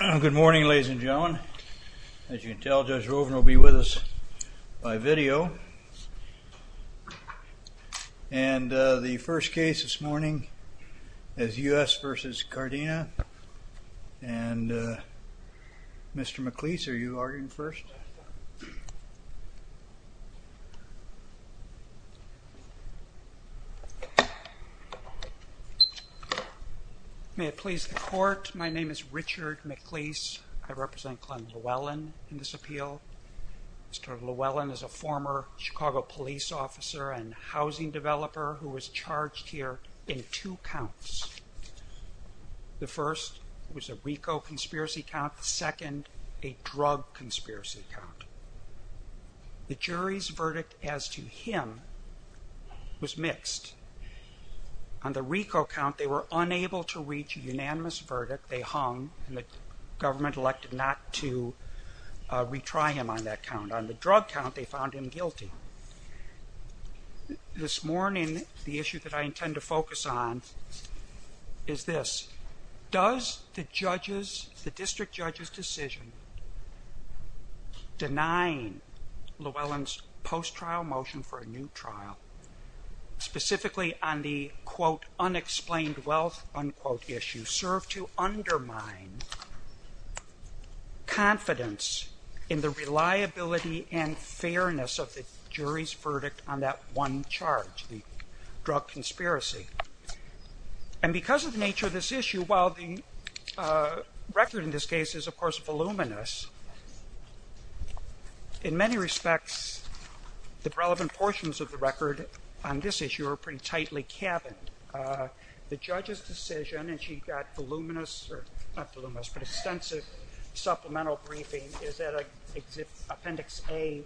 Good morning ladies and gentlemen. As you can tell Judge Rogen will be with us by video. And the first case this morning is U.S. v. Cardena and Mr. McLeese are you arguing first? Richard McLeese May it please the court, my name is Richard McLeese. I represent Glen Llewellyn in this appeal. Mr. Llewellyn is a former Chicago police officer and housing developer who was charged here in two counts. The first was a RICO conspiracy count, the second a drug conspiracy count. The jury's verdict as to him was mixed. On the RICO count they were unable to reach a unanimous verdict, they hung and the government elected not to retry him on that count. On the drug count they found him guilty. This morning the issue that I intend to focus on is this, does the district judge's decision denying Llewellyn's post-trial motion for a new trial specifically on the quote unexplained wealth unquote issue serve to undermine confidence in the reliability and fairness of the jury's drug conspiracy? And because of the nature of this issue while the record in this case is of course voluminous, in many respects the relevant portions of the record on this issue are pretty tightly cabined. The judge's decision and she got voluminous, not voluminous but extensive supplemental briefings is at appendix A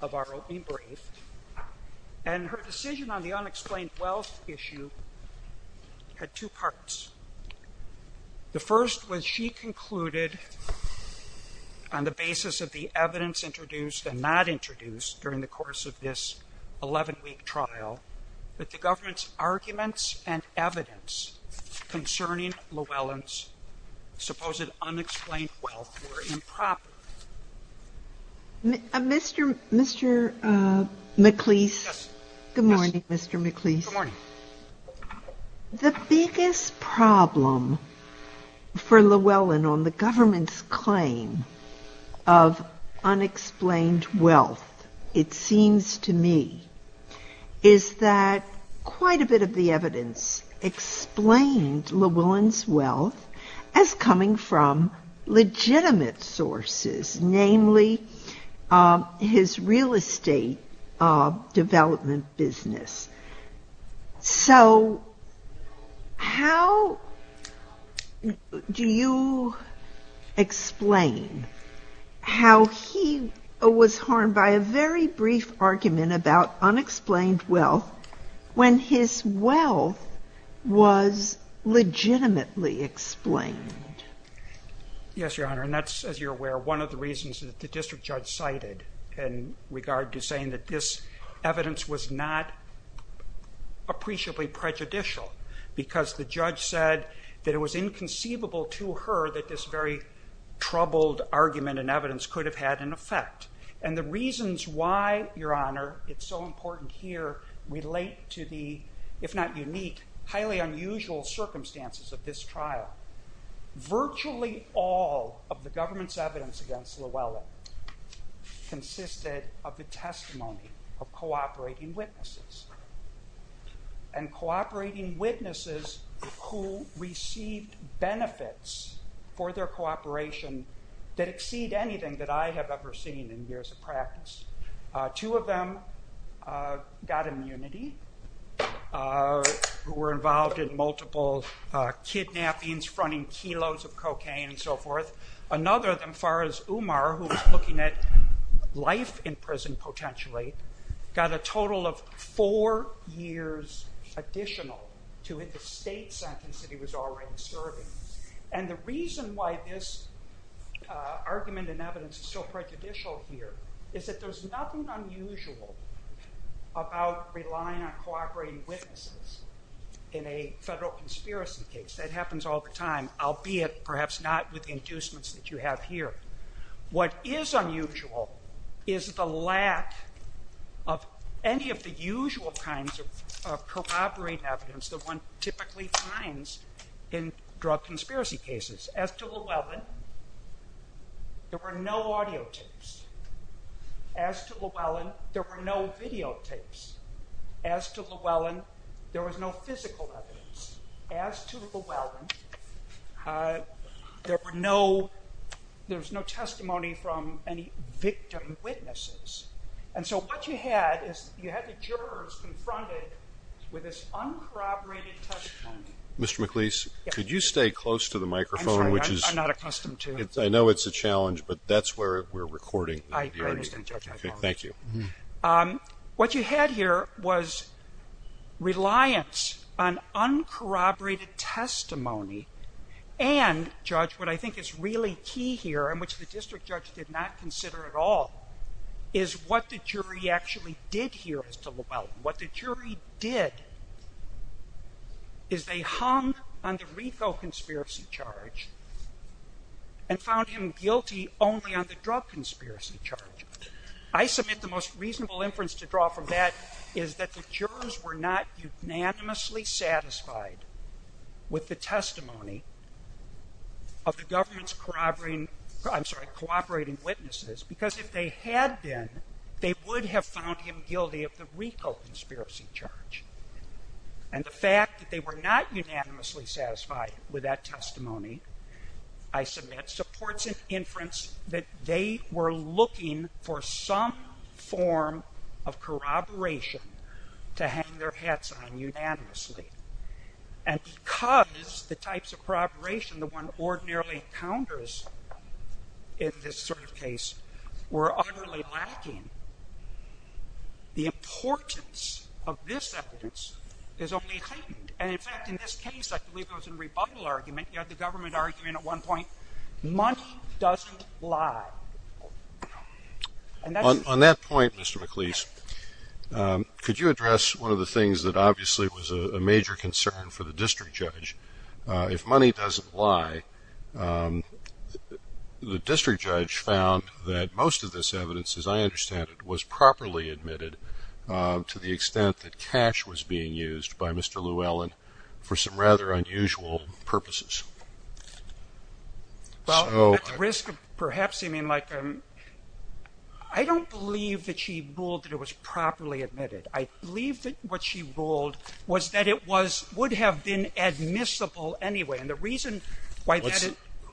of our e-brief and her decision on the unexplained wealth issue had two parts. The first was she concluded on the basis of the evidence introduced and not introduced during the course of this 11-week trial that the government's arguments and evidence concerning Llewellyn's supposed unexplained wealth were improper. Mr. McLeese, good morning Mr. McLeese. The biggest problem for Llewellyn on the government's claim of unexplained wealth, it seems to me, is that quite a bit of the evidence explains Llewellyn's wealth as coming from legitimate sources, namely his real estate development business. So how do you explain how he was harmed by a very brief argument about unexplained wealth when his wealth was legitimately explained? Yes, Your Honor, and that's as you're cited in regard to saying that this evidence was not appreciably prejudicial because the judge said that it was inconceivable to her that this very troubled argument and evidence could have had an effect. And the reasons why, Your Honor, it's so important here relate to the, if not unique, highly unusual circumstances of this trial. Virtually all of the government's evidence against Llewellyn consisted of the testimony of cooperating witnesses, and cooperating witnesses who received benefits for their cooperation that exceed anything that I have ever seen in years of practice. Two of them got immunity, were involved in multiple kidnappings, running kilos of cocaine, and so forth. Another, as far as Umar, who was looking at life in prison potentially, got a total of four years additional to his state sentence that he was already serving. And the reason why this argument and evidence is so prejudicial here is that there's nothing unusual about relying on cooperating witnesses in a federal conspiracy case. That happens all the time, albeit perhaps not with the inducements that you have here. What is unusual is the lack of any of the usual kinds of corroborate evidence that one typically finds in drug conspiracy cases. As to Llewellyn, there were no audio tapes. As to Llewellyn, there were no videotapes. As to Llewellyn, there was no physical evidence. As to Llewellyn, there was no testimony from any victim witnesses. And so what you had is you had the jurors confronted with this uncorroborated testimony. Mr. McLeese, could you stay close to the microphone? I'm sorry, I'm not accustomed to it. I know it's a challenge, but that's where we're recording. Thank you. What you had here was reliance on uncorroborated testimony. And, Judge, what I think is really key here, and which the district judge did not consider at all, is what the jury actually did here as to Llewellyn. What the jury did is they hung on the refill conspiracy charge and found him guilty only on the drug conspiracy charge. I submit the most reasonable inference to draw from that is that the jurors were not unanimously satisfied with the testimony of the government's corroborating, I'm sorry, cooperating witnesses. Because if they had been, they would have found him guilty of the refill conspiracy charge. And the fact that they were not unanimously satisfied with that testimony, I submit, supports an inference that they were looking for some form of corroboration to hang their hats on unanimously. And because the types of corroboration that one ordinarily encounters in this sort of case were utterly lacking, the importance of this evidence is only heightened. And in fact, in this case, I believe it was a rebuttal argument, you had the government arguing at one point, money doesn't lie. On that point, Mr. McLeese, could you address one of the things that obviously was a major concern for the district judge? If money doesn't lie, the district judge found that most of this evidence, as I understand it, was properly admitted to the extent that cash was being used by Mr. Llewellyn for some rather unusual purposes. Well, at the risk of perhaps seeming like I don't believe that she ruled that it was properly admitted. I believe that what she ruled was that it was would have been admissible anyway. And the reason why,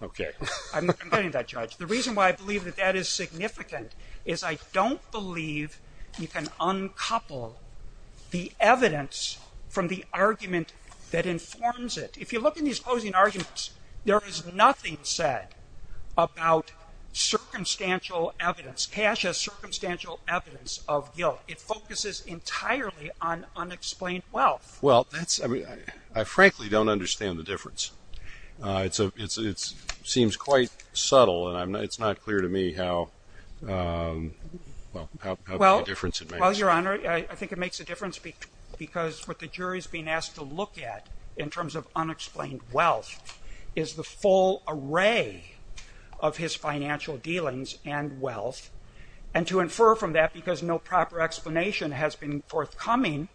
okay, I'm not complaining about judge. The reason why I believe that that is significant is I don't believe you can uncouple the evidence from the argument that informs it. If you look in these closing arguments, there is nothing said about circumstantial evidence, cash as circumstantial evidence of unexplained wealth. Well, I frankly don't understand the difference. It seems quite subtle and it's not clear to me how, well, how the difference it makes. Well, your honor, I think it makes a difference because what the jury's being asked to look at in terms of unexplained wealth is the full array of his financial dealings and wealth. And to infer from that because no coming,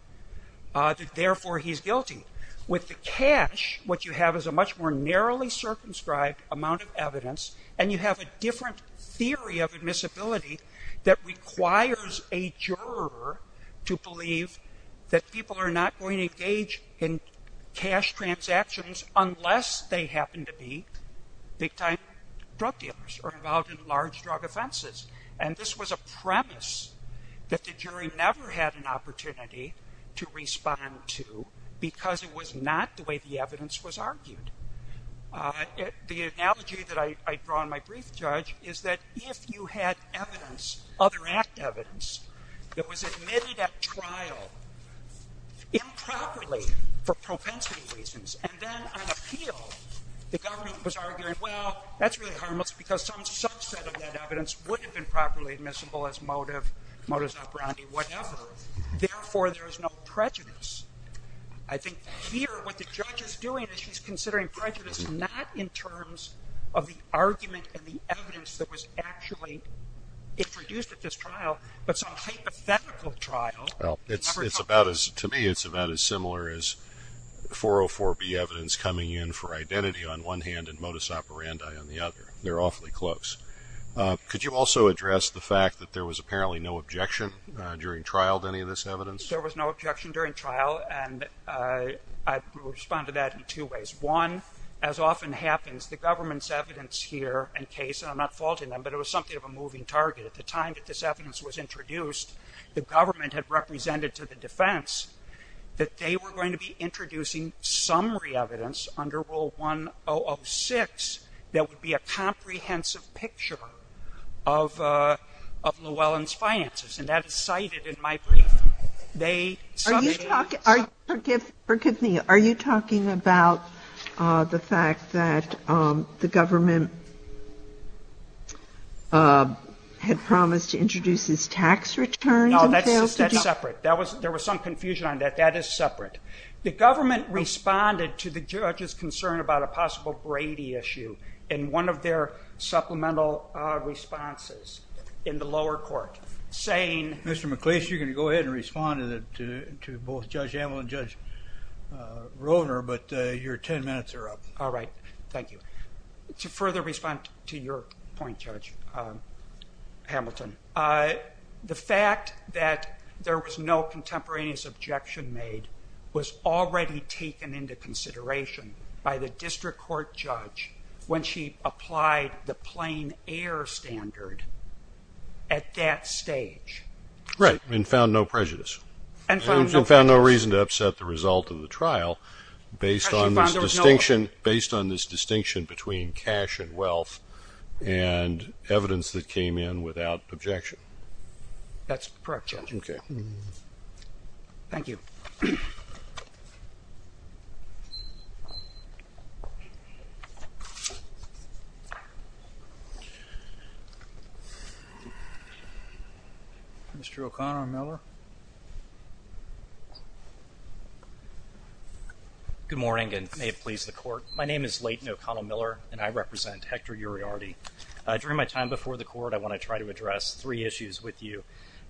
therefore he's guilty. With the cash, what you have is a much more narrowly circumscribed amount of evidence and you have a different theory of admissibility that requires a juror to believe that people are not going to engage in cash transactions unless they happen to be big time drug dealers or involved in large drug offenses. And this was a premise that the jury never had an opportunity to respond to because it was not the way the evidence was argued. The analogy that I draw in my brief, Judge, is that if you had evidence, other evidence, that was admitted at trial improperly for propensity reasons and then on appeal, the government was arguing, well, that's really harmless because some subset of that evidence would have been properly admissible as motive, modus operandi, whatever. Therefore, there's no prejudice. I think here what the judge is doing is she's considering prejudice not in terms of the argument and the evidence that was actually introduced at this trial, but some hypothetical trial. Well, it's about as, to me, it's about as similar as 404B evidence coming in for identity on one hand and modus operandi on the other. They're awfully close. Could you also address the fact that there was apparently no objection during trial to any of this evidence? There was no objection during trial, and I respond to that in two ways. One, as often happens, the government's evidence here and case, and I'm not faulting them, but it was something of a moving target. At the time that this evidence was introduced, the government had represented to the defense that they were going to be a comprehensive picture of Llewellyn's finances, and that is cited in my brief. Are you talking about the fact that the government had promised to introduce his tax return? No, that's separate. There was some confusion on that. That is separate. The government responded to the judge's concern about a possible Brady issue in one of their supplemental responses in the lower court, saying... Mr. McLeish, you can go ahead and respond to both Judge Hamill and Judge Roehner, but your 10 minutes are up. All right. Thank you. To further respond to your point, Judge Hamilton, the fact that there was no contemporaneous objection made was already taken into consideration by the district court judge when she applied the plain air standard at that stage. Right, and found no prejudice. And found no reason to upset the result of the trial based on this distinction between cash and wealth and evidence that came in without objection. That's correct, Judge. Okay. Thank you. Mr. O'Connor-Miller. Good morning, and may it please the court. My name is Leighton O'Connor-Miller, and I represent Hector Uriarte. During my time before the court, I want to try to address three issues with you.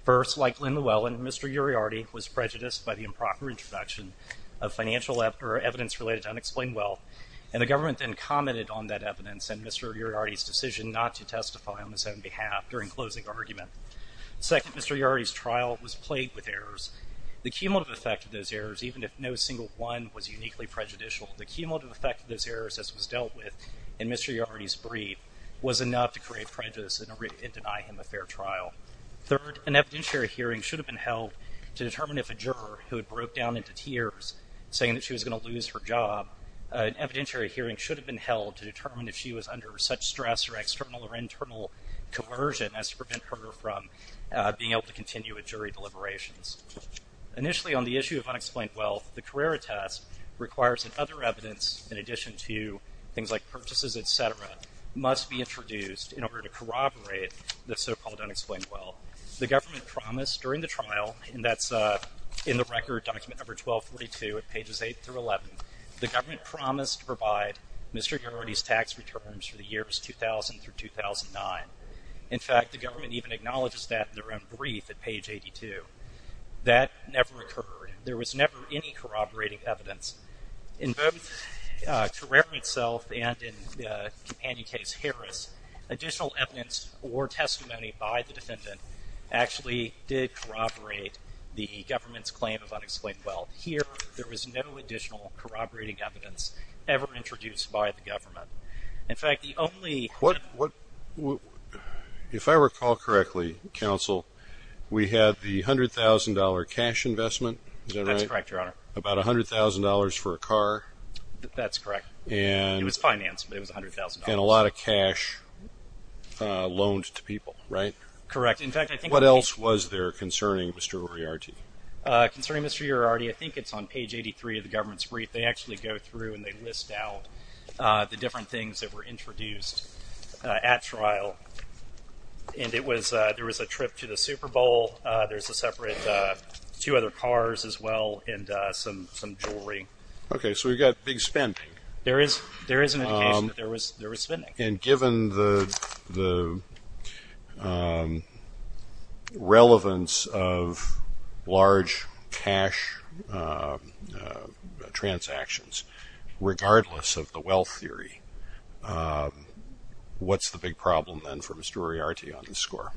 First, like Lynn Llewellyn, Mr. Uriarte was prejudiced by the improper introduction of financial evidence related to unexplained wealth, and the government then commented on that evidence and Mr. Uriarte's decision not to testify on his own behalf during closing argument. Second, Mr. Uriarte's trial was plagued with errors. The cumulative effect of those errors, even if no single one was uniquely prejudicial, the cumulative effect of those errors that was dealt with in Mr. Uriarte's brief was enough to create prejudice and deny him a fair trial. Third, an evidentiary hearing should have been held to determine if a juror who had broke down into tears saying that she was going to lose her job, an evidentiary hearing should have been held to determine if she was under such stress or external or internal coercion as to prevent her from being able to continue with jury deliberations. Initially, on the issue of unexplained wealth, the Carrera test requires that other evidence in addition to things like purchases, etc., must be introduced in order to corroborate the so-called unexplained wealth. The government promised during the trial, and that's in the record document number 1242 at pages 8 through 11, the government promised to provide Mr. Uriarte's tax returns for the years 2000 through 2009. In fact, the government even acknowledges that in their own brief at page 82. That never occurred. There was never any corroborating evidence. In both Carrera itself and in Campagna Case, Harris, additional evidence or testimony by the defendant actually did corroborate the government's claim of unexplained wealth. Here, there was no additional corroborating evidence ever introduced by the government. In fact, the only... What... If I recall correctly, counsel, we had the $100,000 cash investment, is that right? That's correct, your honor. About $100,000 for a car? That's correct. And... It was financed. It was $100,000. And a lot of cash loaned to people, right? Correct. In fact, I think... What else was there concerning Mr. Uriarte? Concerning Mr. Uriarte, I think it's on page 83 of the government's brief. They actually go through and they list out the different things that were introduced at trial. And it was... There was a trip to the Super Bowl. There's a separate... Two other cars as well and some jewelry. Okay. So we got big spend. There is... There is... There was spending. And given the relevance of large cash transactions, regardless of the wealth theory, what's the big problem then for Mr. Uriarte on the score?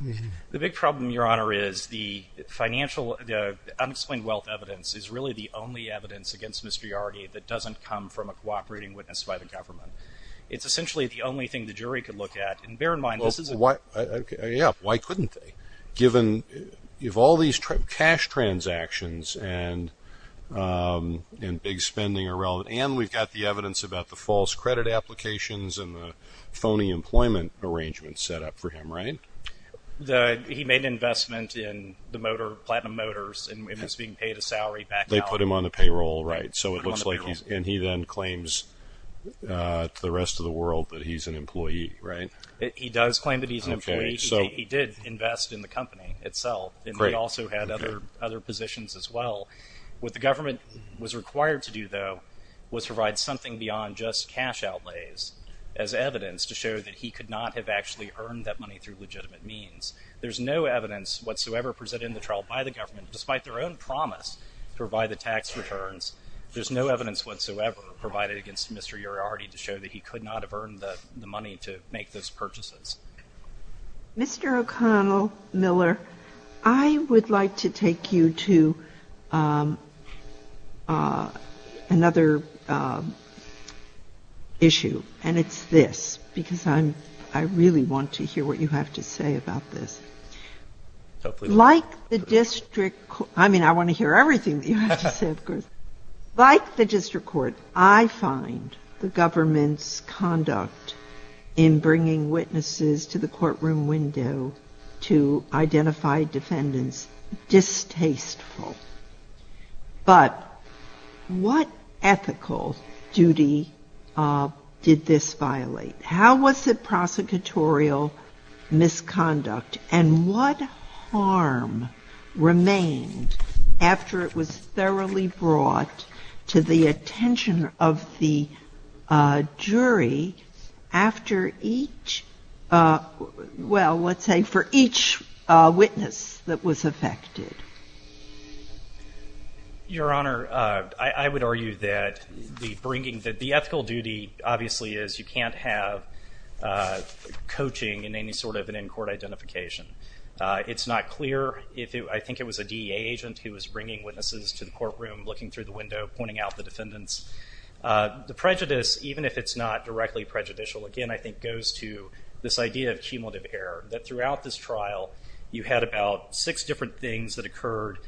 The big problem, your honor, is the financial... The unexplained wealth evidence is really the only evidence against Mr. Uriarte that doesn't come from a cooperating witness by the government. It's essentially the only thing the jury could look at. And bear in mind, this is... Why... Yeah. Why couldn't they? Given all these cash transactions and big spending around... And we've got the evidence about the false credit applications and the phony employment arrangements set up for him, right? He made an investment in the motor... Platinum Motors and is being paid a salary back... They put him on the payroll, right? So it looks like... And he then claims to the rest of the world that he's an employee, right? He does claim that he's an employee. He did invest in the company itself and he also had other positions as well. What the government was required to do, though, was provide something beyond just cash outlays as evidence to show that he could not have actually earned that money through legitimate means. There's no evidence whatsoever presented in the trial by the government, despite their own promise to provide the tax returns. There's no evidence whatsoever provided against Mr. Uriarte to show that he could not have earned the money to make those purchases. Mr. O'Connell Miller, I would like to take you to another issue and it's this, because I'm... I really want to hear what you have to say about this. Like the district... I mean, I want to hear everything you have to say, of course. Like the district court, I find the government's conduct in bringing witnesses to the courtroom window to identify defendants distasteful. But what ethical duty did this violate? How was it brought to the attention of the jury after each... Well, let's say for each witness that was affected? Your Honor, I would argue that the ethical duty obviously is you can't have coaching in any sort of an in-court identification. It's not clear. I think it was a DEA agent who was bringing to the courtroom, looking through the window, pointing out the defendants. The prejudice, even if it's not directly prejudicial, again, I think goes to this idea of cumulative error, that throughout this trial, you had about six different things that occurred.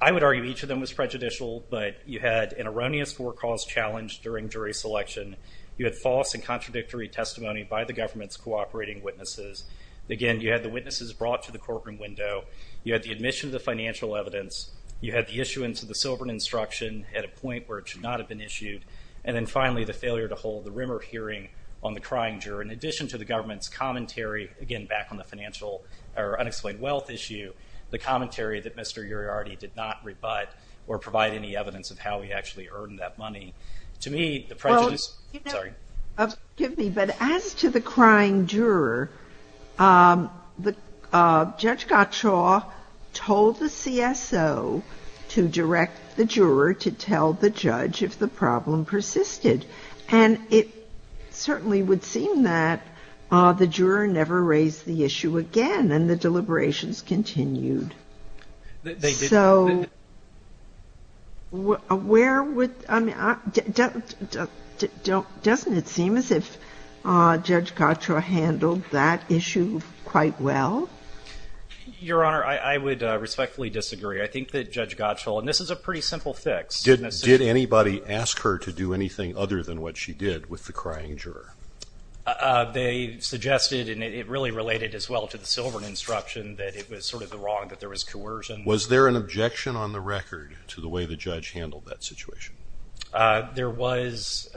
I would argue each of them was prejudicial, but you had an erroneous forecalls challenge during jury selection. You had false and contradictory testimony by the government's cooperating witnesses. Again, you had the witnesses brought to the courtroom window. You had the admission of the financial evidence. You had the issuance of the sovereign instruction at a point where it should not have been issued. And then finally, the failure to hold the rumor hearing on the crying juror. In addition to the government's commentary, again, back on the financial or unexplained wealth issue, the commentary that Mr. Iriarty did not rebut or provide any evidence of how he actually earned that money. To me... Excuse me, but as to the crying juror, Judge Gottschall told the CSO to direct the juror to tell the judge if the problem persisted. And it certainly would seem that the juror never raised the issue again, and the deliberations continued. So where would... Doesn't it seem as if Judge Gottschall handled that issue quite well? Your Honor, I would respectfully disagree. I think that Judge Gottschall... And this is a pretty simple fix. Did anybody ask her to do anything other than what she did with the crying juror? They suggested, and it really related as well to the sovereign instruction, that it was sort of the wrong, that there was coercion. Was there an objection on the record to the way the judge handled that situation? There was.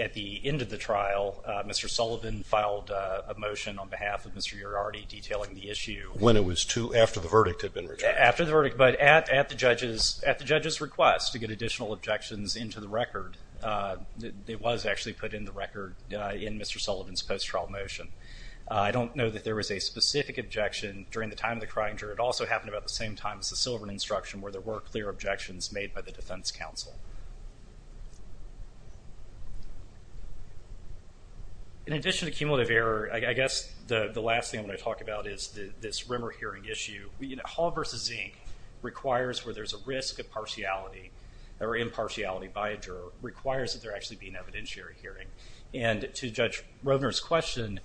At the end of the trial, Mr. Sullivan filed a motion on behalf of Mr. Iriarty detailing the issue. When it was too... After the verdict had been... After the verdict, but at the judge's request to get additional objections into the record, it was actually put in the record in Mr. Sullivan's post-trial motion. I don't know that there was a specific objection during the time of the crying juror. It also happened about the same time as the sovereign instruction where there were clear objections made by the defense counsel. In addition to cumulative error, I guess the last thing I'm going to talk about is this rumor hearing issue. Hall v. Zink requires where there's a risk of impartiality by a juror, requires that there actually be an evidentiary hearing. And to Judge Roedner's question,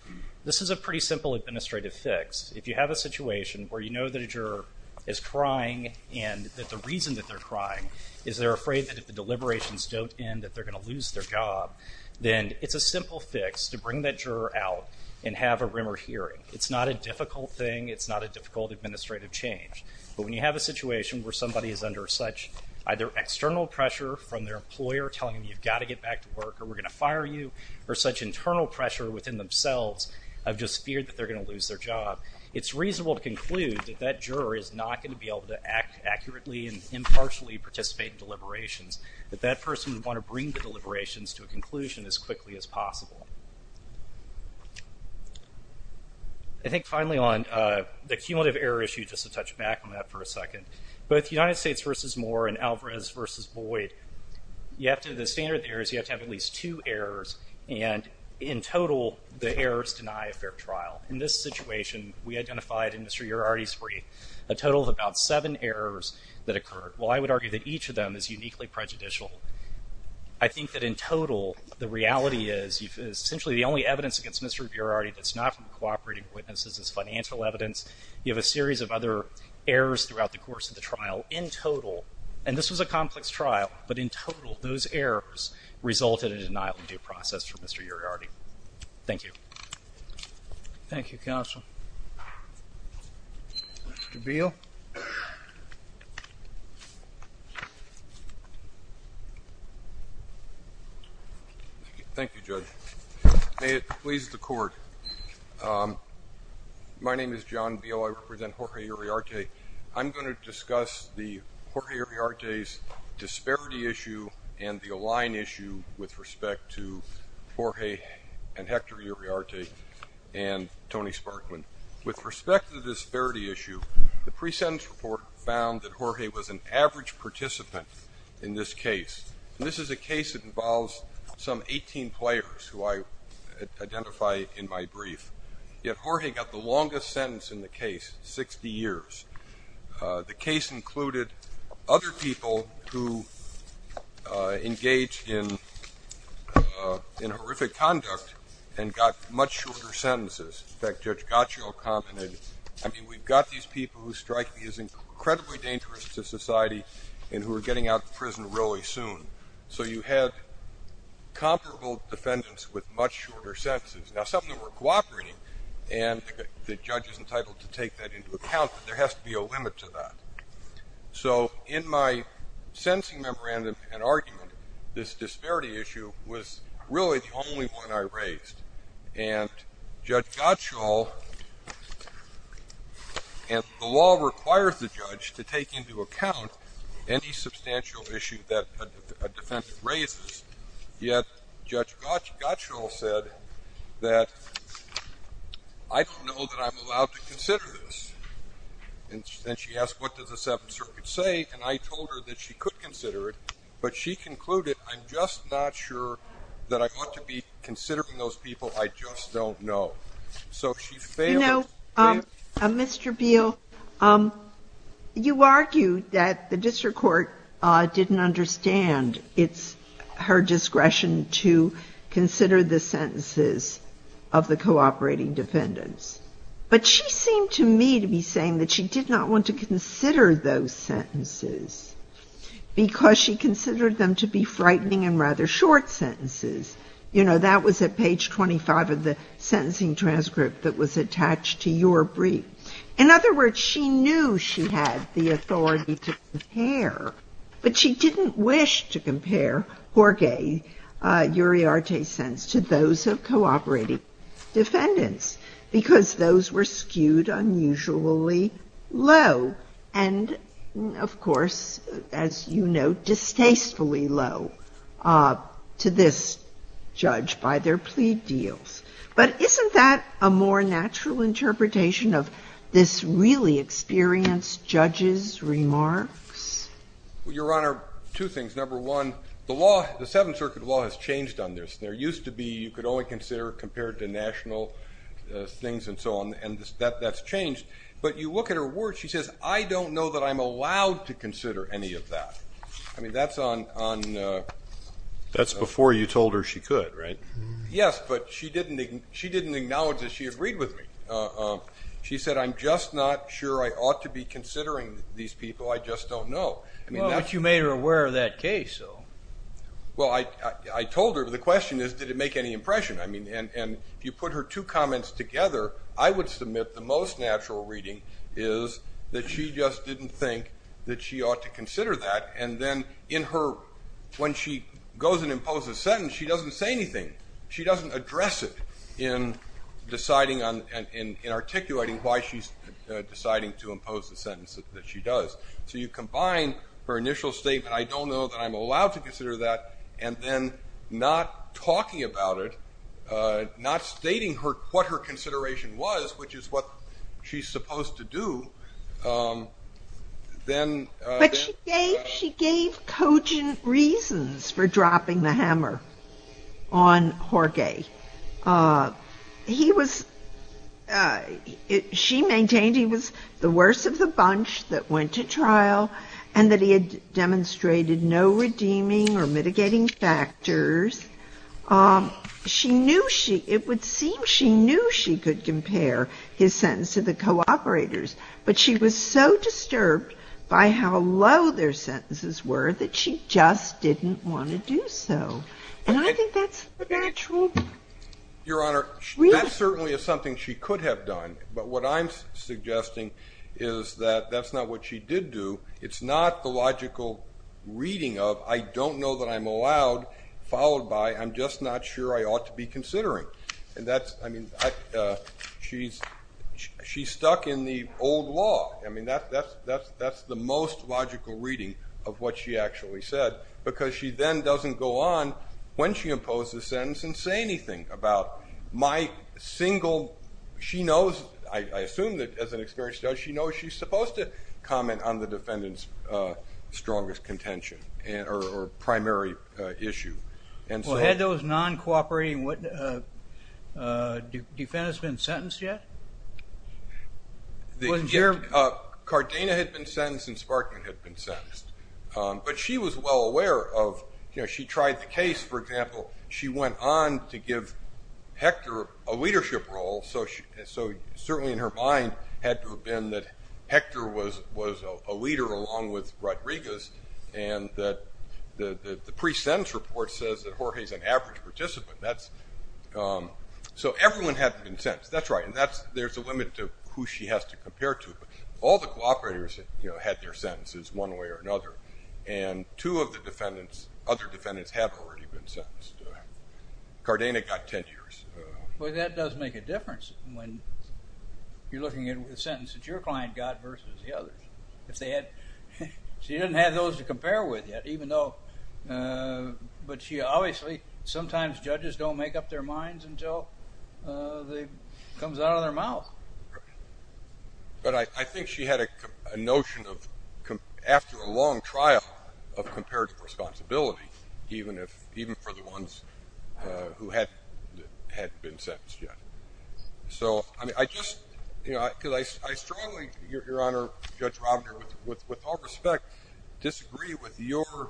this is a pretty simple administrative fix. If you have a situation where you know that a juror is crying and that the reason that they're crying is they're afraid that if the deliberations don't end that they're going to lose their job, then it's a simple fix to bring that juror out and have a rumor hearing. It's not a difficult thing. It's not a difficult administrative change. But when you have a situation where somebody is under such either external pressure from their employer telling them you've got to get back to work or we're going to fire you, or such internal pressure within themselves of just fear that they're going to lose their job, it's reasonable to conclude that that juror is not going to be able to act accurately and impartially participate in deliberations, that that person would want to bring the deliberations to a conclusion as quickly as possible. I think finally on the cumulative error issue, just to touch back on that for a second, both United States v. Moore and Alvarez v. Boyd, you have to have at least two errors, and in total, the errors deny a fair trial. In this situation, we identified in Mr. Uriarte's brief, a total of about seven errors that occurred. While I would argue that each of them is uniquely prejudicial, I think that in total, the reality is essentially the only evidence against Mr. Uriarte that's not from cooperating witnesses is financial evidence. You have a series of other errors throughout the course of the trial, in total, and this was a complex trial, but in total, those errors resulted in a denial of due process for Mr. Uriarte. Thank you. Thank you, Cashel. Mr. Beal. Thank you, Judge. May it please the court. My name is John Beal. I represent Jorge Uriarte. I'm going to discuss the Jorge Uriarte's disparity issue and the Align issue with respect to Jorge and Hector Uriarte and Tony Sparkman. With respect to the disparity issue, the pre-sentence report found that Jorge was an average participant in this case. This is a case that involves some 18 players who I identified in my brief, yet Jorge got the longest sentence in the case, 60 years. The case included other people who engaged in horrific conduct and got much shorter sentences. In fact, Judge Gottschall commented, I mean, we've got these people who strike these incredibly dangerous to society and who are getting out of prison really soon. So you have comparable defenses with much shorter sentences. Now, some of them were cooperating and the judge is entitled to take that into account, but there has to be a limit to that. So in my sentencing memorandum and argument, this disparity issue was really the only one I raised. And Judge Gottschall, and the law requires the judge to take into account any substantial issue that a defendant raises, yet Judge Gottschall said that I don't know that I'm allowed to consider this. And she asked, what does the Seventh Circuit say? And I told her that she could consider it, but she concluded, I'm just not sure that I want to be considering those people. I just don't know. You know, Mr. Veal, you argue that the district court didn't understand it's her discretion to consider the sentences of the cooperating defendants. But she seemed to me to be saying that she did not want to consider those sentences because she considered them to be frightening and was attached to your brief. In other words, she knew she had the authority to compare, but she didn't wish to compare Jorge Uriarte's sentence to those of cooperating defendants, because those were skewed unusually low. And of course, as you know, distastefully low to this judge by their plea deals. But isn't that a more natural interpretation of this really experienced judge's remarks? Your Honor, two things. Number one, the law, the Seventh Circuit law has changed on this. There used to be, you could only consider compared to national things and so on, and that's changed. But you look at her words, she says, I don't know I'm allowed to consider any of that. I mean, that's on... That's before you told her she could, right? Yes, but she didn't acknowledge that she agreed with me. She said, I'm just not sure I ought to be considering these people. I just don't know. Well, but you made her aware of that case. Well, I told her, but the question is, did it make any impression? I mean, and you put her two she ought to consider that, and then in her... When she goes and imposes a sentence, she doesn't say anything. She doesn't address it in deciding and articulating why she's deciding to impose the sentences that she does. So you've combined her initial state, I don't know that I'm allowed to consider that, and then not talking about it, not stating what her then... But she gave coaching reasons for dropping the hammer on Jorge. He was... She maintained he was the worst of the bunch that went to trial, and that he had demonstrated no redeeming or mitigating factors. She knew she... It would seem she knew she could compare his sentence to the co-operators, but she was so disturbed by how low their sentences were that she just didn't want to do so. And I think that's the actual... Your Honor, that certainly is something she could have done, but what I'm suggesting is that that's not what she did do. It's not the logical reading of, I don't know that I'm allowed, followed by, I'm just not sure I ought to be considering. And that's, I mean, she's stuck in the old law. I mean, that's the most logical reading of what she actually said, because she then doesn't go on when she imposed the sentence and say anything about my single... She knows, I assume that as an experienced judge, she knows she's supposed to comment on the defendant's strongest contention or primary issue. Well, had those non-cooperating defendants been sentenced yet? Cardena had been sentenced and Sparkner had been sentenced, but she was well aware of, you know, she tried the case, for example, she went on to give Hector a leadership role, so certainly in her mind had to have been that Hector was a leader along with Rodriguez, and that the pre-sentence report says that Jorge's an average participant. So everyone had been sentenced, that's right, and there's a limit to who she has to compare to. All the cooperators had their sentences one way or another, and two of the defendants, other defendants have already been sentenced. Cardena got ten years. Well, that does make a difference when you're looking at sentences your client got versus the she didn't have those to compare with yet, even though, but she obviously, sometimes judges don't make up their minds until it comes out of their mouth. But I think she had a notion of, after a long trial, of comparative responsibility, even if, even for the ones who had been sentenced yet. So, I mean, I just, you know, Judge Romner, with all respect, disagree with your,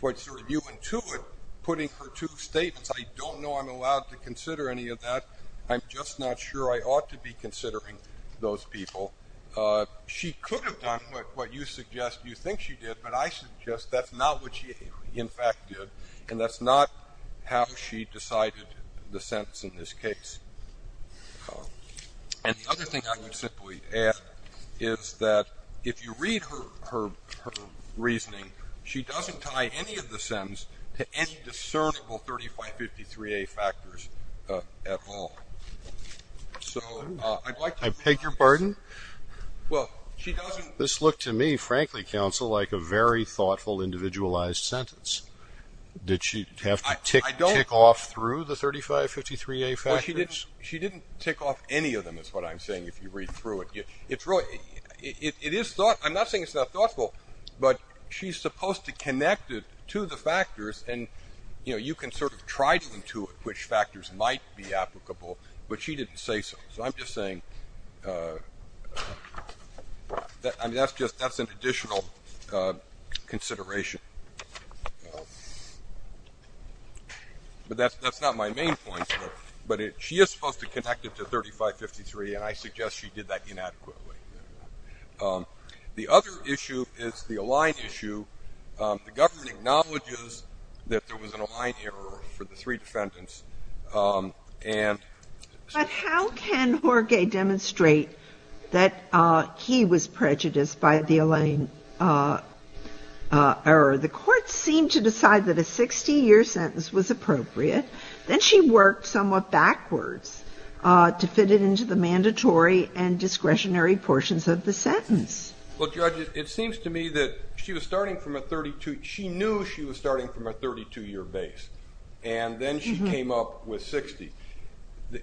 what you intuit, putting her two states, I don't know I'm allowed to consider any of that, I'm just not sure I ought to be considering those people. She could have done what you suggest you think she did, but I suggest that's not what she in fact did, and that's not how she decided the sentence in this case. And the other thing I would simply add is that if you read her reasoning, she doesn't tie any of the sentence to any discernible 3553A factors at all. So, I'd like to- I beg your pardon? Well, she doesn't- This looked to me, frankly, counsel, like a very thoughtful, individualized sentence. Did she have to tick off through the 3553A factors? She didn't tick off any of them, is what I'm saying, if you read through it. It's really, it is thought, and I'm not saying it's not thoughtful, but she's supposed to connect it to the factors, and, you know, you can sort of try to intuit which factors might be applicable, but she didn't say so. So, I'm just saying, I mean, that's just, that's an additional consideration. But that's not my main point, but she is supposed to connect it to 3553, and I suggest she did that inadequately. The other issue is the Align issue. The government acknowledges that there was an Align error for the three defendants, and- How can Jorge demonstrate that he was prejudiced by the Align error? The court seemed to decide that a 60-year sentence was appropriate, then she worked somewhat backwards to fit it into the mandatory and discretionary portions of the sentence. Well, Judge, it seems to me that she was starting from a 32- she knew she was starting from a 32-year base, and then she came up with 60.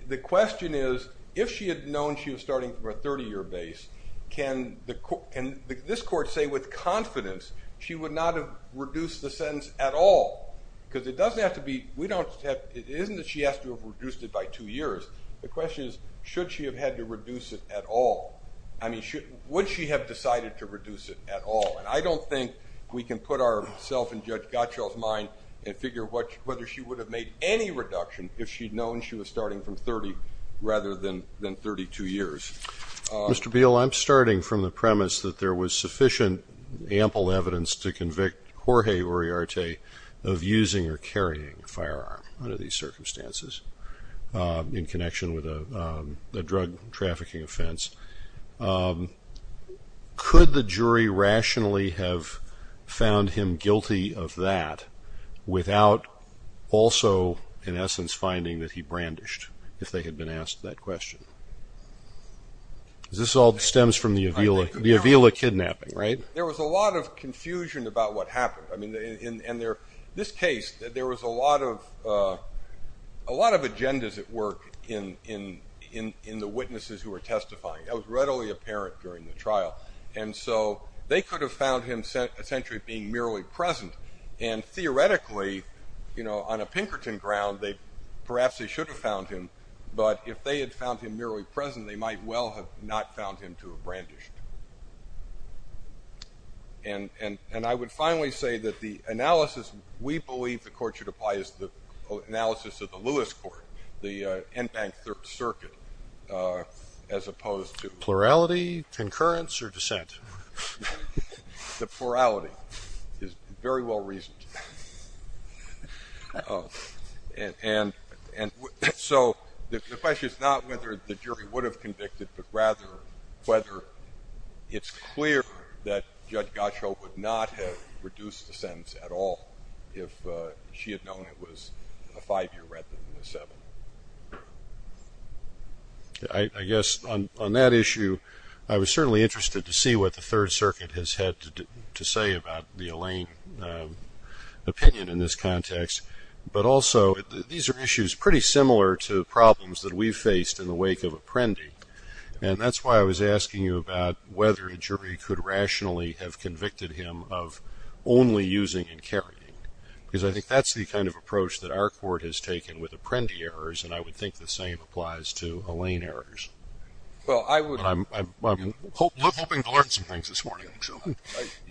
The question is, if she had known she was starting from a 30-year base, can this court say with confidence she would not have reduced the sentence at all? Because it doesn't have to be, we don't have, it isn't that she has to have reduced it by two years. The question is, should she have had to reduce it at all? I mean, would she have decided to reduce it at all? And I don't think we can put ourselves in Judge Gottschall's mind and figure whether she would have made any reduction if she'd known she was starting from 30 rather than 32 years. Mr. Beal, I'm starting from the premise that there was sufficient ample evidence to convict Jorge Uriarte of using or carrying a firearm under these circumstances in connection with a drug trafficking offense. Could the jury rationally have found him guilty of that without also, in essence, finding that he brandished if they had been asked that question? This all stems from the Avila kidnapping, right? There was a lot of confusion about what happened. I mean, in this case, there was a lot of confusion, but it was readily apparent during the trial. And so they could have found him essentially being merely present. And theoretically, you know, on a Pinkerton ground, they perhaps they should have found him, but if they had found him merely present, they might well have not found him to have brandished. And I would finally say that the analysis we believe the court should apply is the analysis of the Lewis court, the M-Bank Third Circuit, as opposed to Plurality, concurrence, or dissent? The plurality is very well reasoned. And so the question is not whether the jury would have convicted, but rather whether it's clear that Judge Gachot would not have reduced the sentence at all if she had known it was a five-year record, not a seven. I guess on that issue, I was certainly interested to see what the Third Circuit has had to say about the Elaine opinion in this context. But also, these are issues pretty similar to problems that we've faced in the wake of Apprendi. And that's why I was asking you about whether a jury could rationally have convicted him of only using and carrying. Because I think that's the kind of approach that our court has taken with Apprendi errors. And I would think the same applies to Elaine errors. But I'm hoping to learn some things this morning.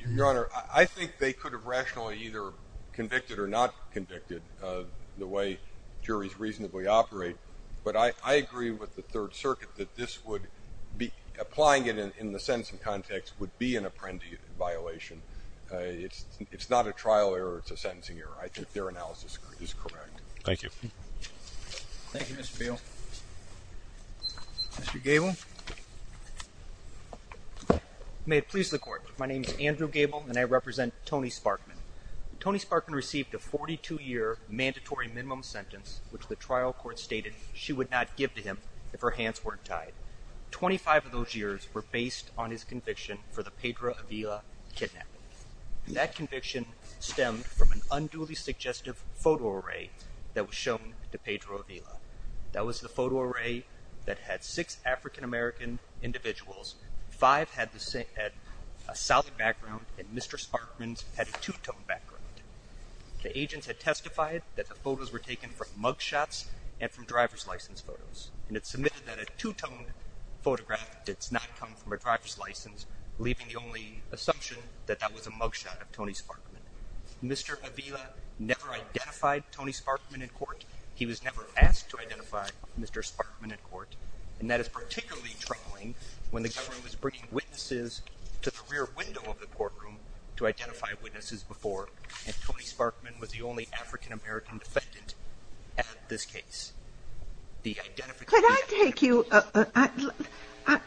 Your Honor, I think they could have rationally either convicted or not convicted, the way juries reasonably operate. But I agree with the Third Circuit that this would be, applying it in the sentence context, would be an Apprendi violation. It's not a trial error. It's a sentencing error. I think their analysis is correct. Thank you. Thank you, Mr. Gale. Mr. Gable? May it please the Court. My name is Andrew Gable, and I represent Tony Sparkman. Tony Sparkman received a 42-year mandatory minimum sentence, which the trial court stated she would not give to him if her hands weren't tied. Twenty-five of those years were based on his conviction for the Pedro Avila kidnapping. That conviction stemmed from an unduly suggestive photo array that was shown to Pedro Avila. That was the photo array that had six African-American individuals. Five had a South background, and Mr. Sparkman had a two-tone background. The agent had testified that the photos were taken from mug shops and from driver's license photos, and it's submitted that a two-tone photograph does not come from a driver's license, leaving the only assumption that that was a mug shot of Tony Sparkman. Mr. Avila never identified Tony Sparkman in court. He was never asked to identify Mr. Sparkman in court, and that is particularly troubling when the government was bringing witnesses to the rear window of the courtroom to identify witnesses before, and Tony Sparkman was the only African-American defendant at this case. Can I take you,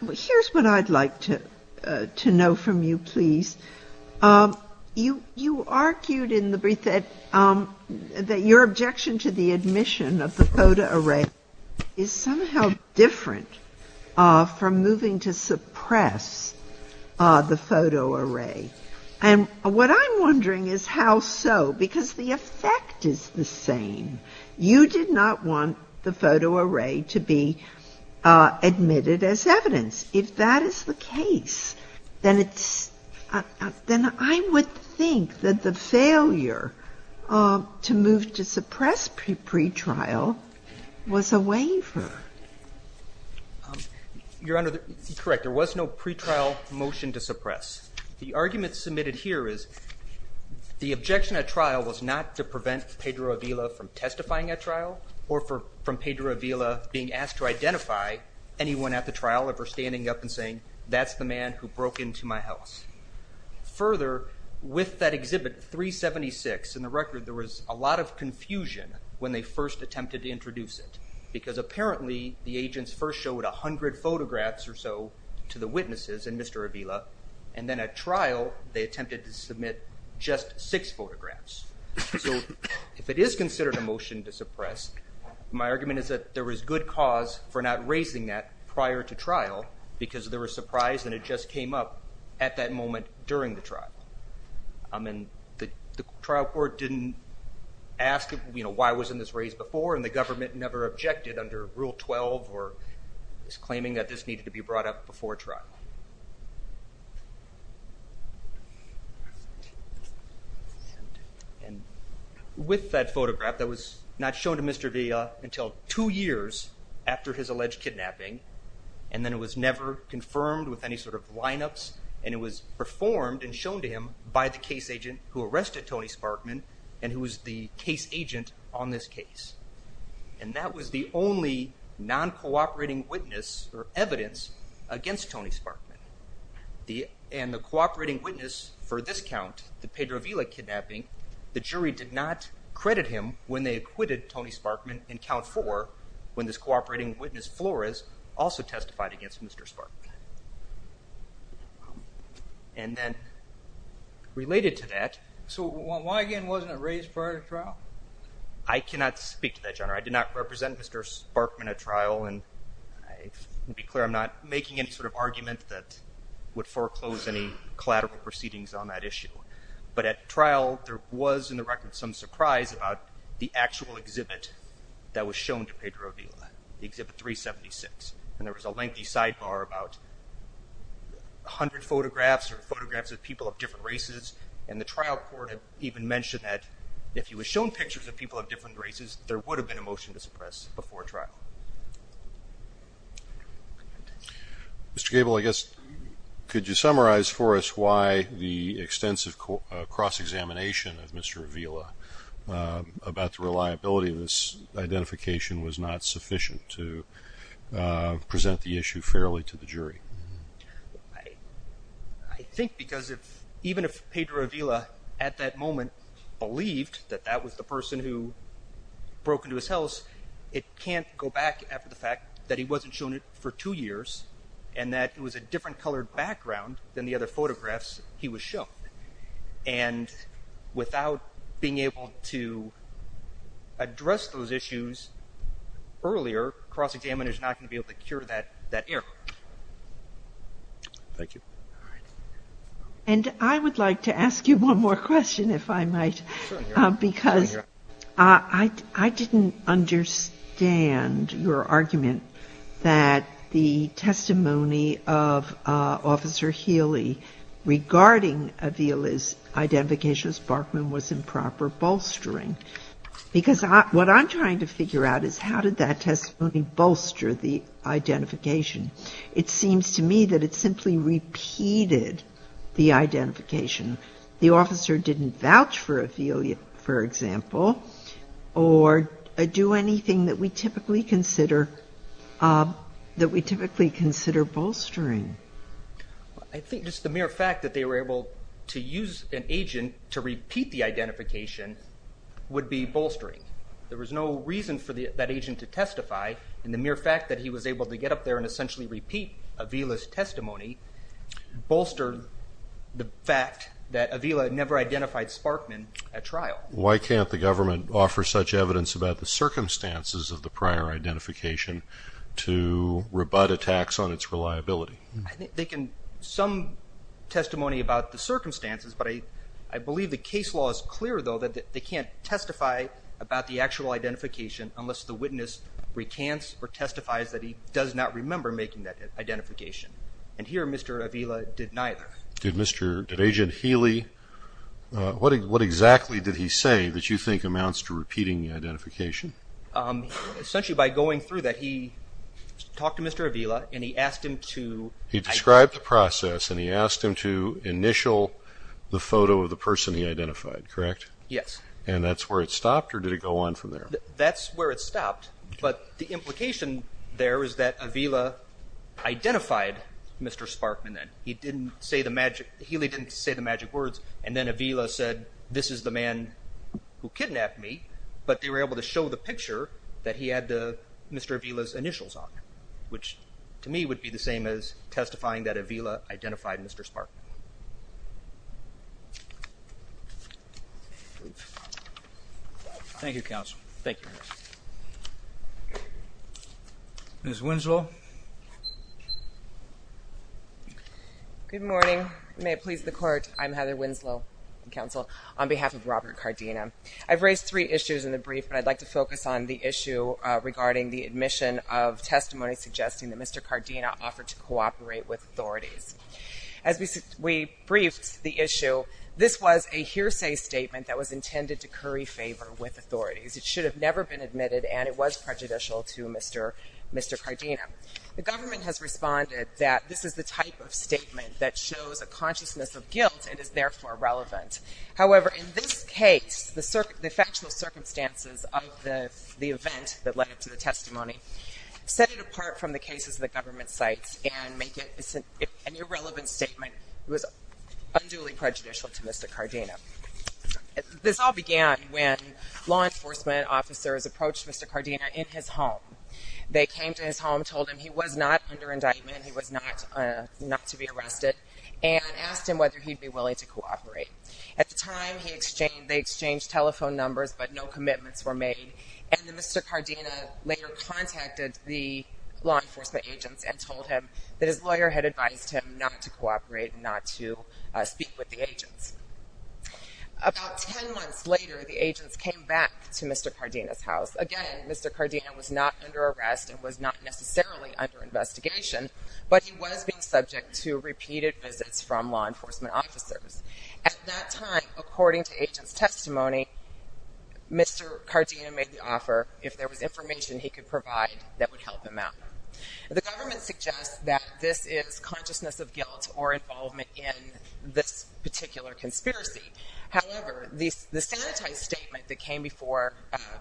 here's what I'd like to know from you, please. You argued in the brief that your objection to the admission of the photo array is somehow different from moving to suppress the photo array, and what I'm wondering is how so, because the effect is the same. You did not want the photo array to be admitted as evidence. If that is the case, then I would think that the failure to move to suppress pretrial was a waiver. Your Honor, correct, there was no pretrial motion to suppress. The argument submitted here is the objection at trial was not to prevent Pedro Avila from testifying at trial, or from Pedro Avila being asked to identify anyone at the trial if they're standing up and saying, that's the man who broke into my house. Further, with that exhibit 376 in the record, there was a lot of confusion when they first attempted to introduce it, because apparently the agents first showed 100 photographs or so to the witnesses and Mr. Avila, and then at trial, they attempted to submit just six photographs. So, if it is considered a motion to suppress, my argument is that there was good cause for not raising that prior to trial, because there was surprise when it just came up at that moment during the trial. I mean, the trial court didn't ask, you know, why wasn't this raised before, and the government never objected under Rule 12 or was claiming that this needed to be brought up before trial. And with that photograph that was not shown to Mr. Avila until two years after his alleged kidnapping, and then it was never confirmed with any sort of lineups, and it was performed and shown to him by the case agent who arrested Tony Sparkman, and who was the case agent on this case. And that was the only non-cooperating witness or evidence against Tony Sparkman. And the cooperating witness for this count, the Pedro Avila kidnapping, the jury did not credit him when they acquitted Tony Sparkman in count four, when this cooperating witness Flores also testified against Mr. Sparkman. And then, related to that, so why again wasn't it raised prior to trial? I cannot speak to that, Your Honor. I did not represent Mr. Sparkman at trial, and to be clear, I'm not making any sort of would foreclose any collateral proceedings on that issue. But at trial, there was, in the record, some surprise about the actual exhibit that was shown to Pedro Avila, the exhibit 376. And there was a lengthy sidebar about 100 photographs or photographs of people of different races, and the trial court had even mentioned that if he was shown pictures of people of different races, there would have been a motion to suppress before trial. Mr. Cable, I guess, could you summarize for us why the extensive cross-examination of Mr. Avila about the reliability of this identification was not sufficient to present the issue fairly to the jury? I think because even if Pedro Avila, at that moment, believed that that was the person who broke into his house, it can't go back after the fact that he wasn't shown it for two years and that it was a different colored background than the other photographs he was shown. And without being able to address those issues earlier, cross-examination is not going to be able to cure that error. Thank you. And I would like to ask you one more question, if I might, because I didn't understand your argument that the testimony of Officer Healy regarding Avila's identification of Sparkman was improper bolstering. Because what I'm trying to figure out is how did that testimony bolster the identification? It seems to me that it simply repeated the identification. The officer didn't vouch for Avila, for example, or do anything that we typically consider bolstering. I think just the mere fact that they were able to use an agent to repeat the identification would be bolstering. There was no reason for that agent to testify, and the mere fact that he was able to get up there and essentially repeat Avila's testimony bolstered the fact that Avila never identified Sparkman at trial. Why can't the government offer such evidence about the circumstances of the prior identification to rebut attacks on its reliability? I think they can give some testimony about the circumstances, but I believe the case law is clear, though, that they can't testify about the actual identification unless the making that identification, and here Mr. Avila did neither. Did Agent Healy, what exactly did he say that you think amounts to repeating the identification? Essentially by going through that, he talked to Mr. Avila, and he asked him to describe the process, and he asked him to initial the photo of the person he identified, correct? Yes. And that's where it stopped, or did it go on from there? That's where it stopped, but the implication there is that Avila identified Mr. Sparkman then. He didn't say the magic, Healy didn't say the magic words, and then Avila said this is the man who kidnapped me, but they were able to show the picture that he had Mr. Avila's initials on, which to me would be the same as testifying that Avila identified Mr. Sparkman. Thank you, counsel. Thank you. Ms. Winslow? Good morning. May it please the court, I'm Heather Winslow, counsel, on behalf of Robert Cardena. I've raised three issues in the brief, but I'd like to focus on the issue regarding the admission of testimony suggesting that Mr. Cardena offered to cooperate with authority. As we brief the issue, this was a hearsay statement that was intended to curry favor with authority. It should have never been admitted, and it was prejudicial to Mr. Cardena. The government has responded that this is the type of statement that shows a consciousness of guilt and is therefore irrelevant. However, in this case, the factual circumstances of the event that led up to the testimony set it apart from the cases the government cites and make it an irrelevant statement unduly prejudicial to Mr. Cardena. This all began when law enforcement officers approached Mr. Cardena in his home. They came to his home, told him he was not under indictment, he was not to be arrested, and asked him whether he'd be willing to cooperate. At the time, they exchanged telephone numbers, but no commitments were made. And then Mr. Cardena later contacted the law enforcement agents and told him that his lawyer had advised him not to cooperate and not to speak with the agents. About 10 months later, the agents came back to Mr. Cardena's house. Again, Mr. Cardena was not under arrest and was not necessarily under investigation, but he was being subject to repeated visits from law enforcement officers. At that time, according to agents' testimony, Mr. Cardena made the offer if there was information he could provide that would help him out. The government suggests that this is consciousness of guilt or involvement in this particular conspiracy. However, the sanitized statement that came before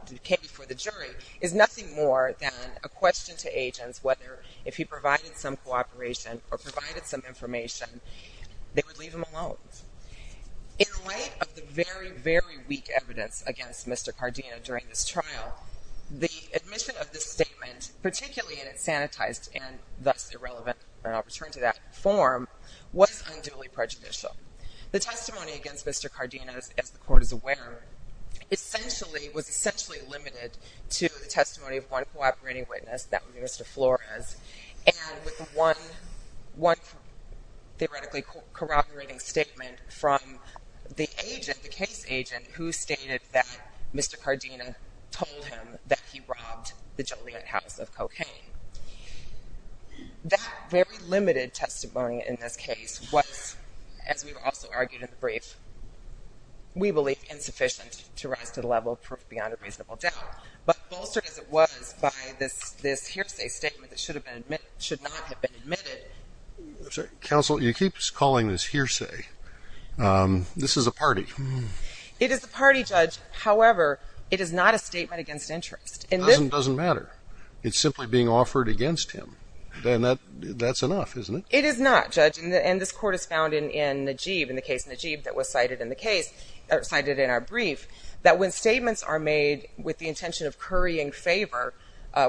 the jury is nothing more than a question to agents whether if he provided some cooperation or provided some information, they would leave him alone. In light of the very, very weak evidence against Mr. Cardena during this trial, the admission of this statement, particularly in its sanitized and thus irrelevant, and I'll return to that, form, was unduly prejudicial. The testimony against Mr. Cardena, as the court is aware, was essentially limited to the testimony of one cooperating witness, that would be Mr. Flores, and with one theoretically corroborating statement from the agent, the case agent, who stated that Mr. Cardena told him that he robbed the Joliet House of Cocaine. That very limited testimony in this case was, as we've also argued in the brief, we believe insufficient to rise to the level of beyond a reasonable doubt. But altered as it was by this hearsay statement that should not have been admitted. Counsel, you keep calling this hearsay. This is a party. It is a party, Judge. However, it is not a statement against interest. It doesn't matter. It's simply being offered against him. That's enough, isn't it? It is not, Judge. And this court has found in Najeeb, in the case of Najeeb that was cited in our brief, that when statements are made with the intention of currying favor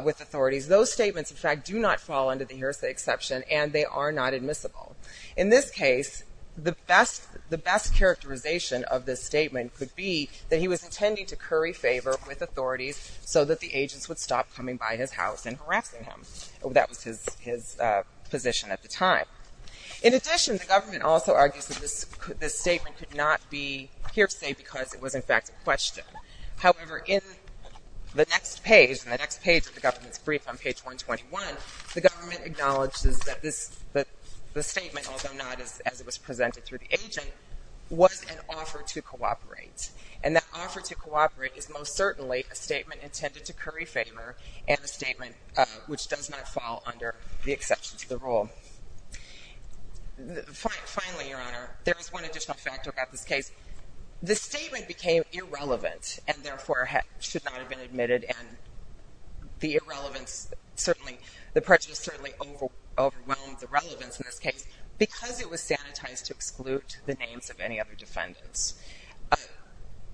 with authorities, those statements, in fact, do not fall under the hearsay exception, and they are not admissible. In this case, the best characterization of this statement could be that he was intending to curry favor with authorities so that the agents would stop coming by his house and harassing him. That was his position at the time. In addition, the government also argued that this statement could not be hearsay because it was, in fact, a question. However, in the next page, in the next page of the government's brief on page 121, the government acknowledges that this statement, although not as it was presented to the agent, was an offer to cooperate. And that offer to cooperate is most certainly a statement intended to curry favor and a statement which does not fall under the exception to the rule. Finally, Your Honor, there is one additional factor about this case. This statement became irrelevant and, therefore, should not have been admitted. And the irrelevance, certainly, the prejudice certainly overwhelmed the relevance in this case because it was sanitized to preclude the names of any other defendants.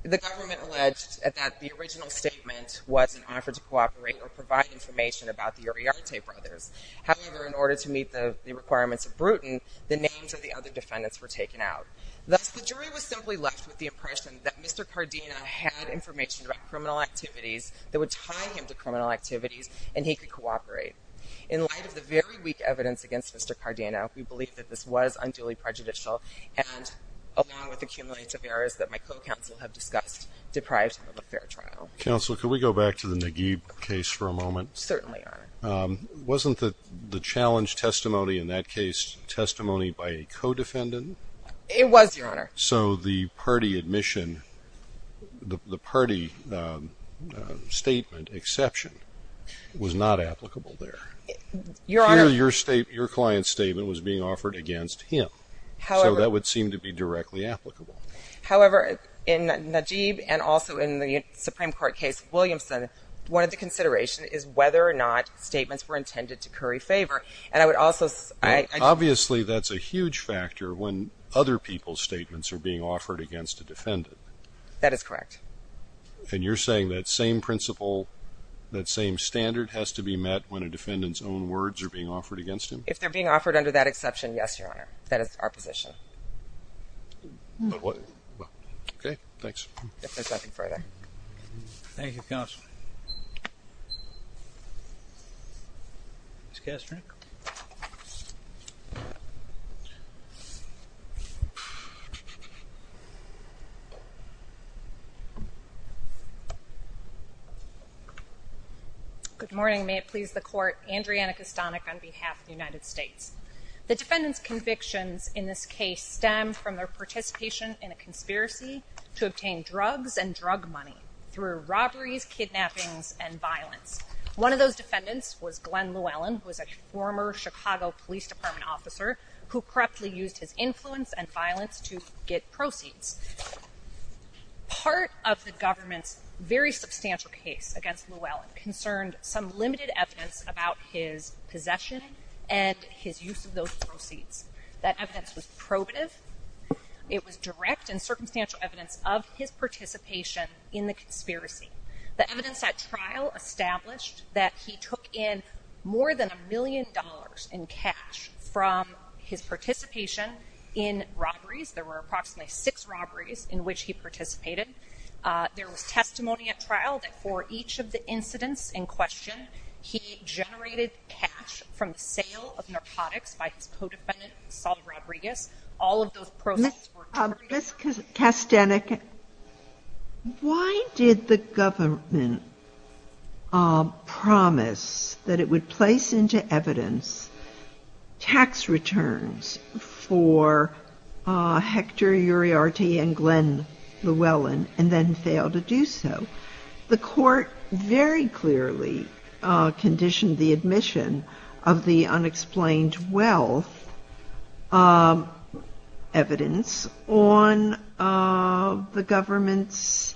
The government alleged that the original statement was an offer to cooperate or provide information about the Uriarte brothers. However, in order to meet the requirements of Bruton, the names of the other defendants were taken out. Thus, the jury was simply left with the impression that Mr. Cardino had information about criminal activities that would tie him to criminal activities and he could cooperate. In light of the very weak evidence against Mr. Cardino, we believe that this was unduly prejudicial and along with accumulations of errors that my co-counsel have discussed, deprived him of a fair trial. Counsel, can we go back to the Naguib case for a moment? Certainly, Your Honor. Wasn't the challenge testimony in that case testimony by a co-defendant? It was, Your Honor. So the party admission, the party statement exception was not applicable there. Your Honor. Here, your client's statement was being offered against him. However... So that would seem to be directly applicable. However, in Naguib and also in the Supreme Court case, Williamson, one of the considerations is whether or not statements were intended to curry favor and I would also... Obviously, that's a huge factor when other people's statements are being offered against a defendant. That is correct. And you're saying that same principle, that same standard has to be met when a defendant's own words are being offered against him? If they're being offered under that exception, yes, Your Honor. That is our position. Okay. Thanks. If there's nothing further... Thank you, Counsel. Ms. Kastner? Good morning. May it please the Court. Andriana Kastanek on behalf of the United States. The defendant's convictions in this case stem from their participation in a conspiracy to obtain drugs and drug money through robberies, kidnappings, and violence. One of those defendants was Glenn Llewellyn, who was a former Chicago Police Department officer who correctly used his influence and violence to get proceeds. Part of the government's very substantial case against Llewellyn concerned some limited evidence about his possession and his use of those proceeds. That evidence was probative. It was direct and circumstantial evidence of his participation in the conspiracy. The evidence at trial established that he took in more than a million dollars in cash from his participation in robberies. There were approximately six robberies in which he participated. There was testimony at trial that for each of the incidents in question, he generated cash from the sale of narcotics by his co-defendant, Saul Rodriguez. All of those proceeds were... Ms. Kastanek, why did the government promise that it would place into evidence tax returns for Hector Uriarte and Glenn Llewellyn and then fail to do so? The court very clearly conditioned the admission of the unexplained wealth evidence on the government's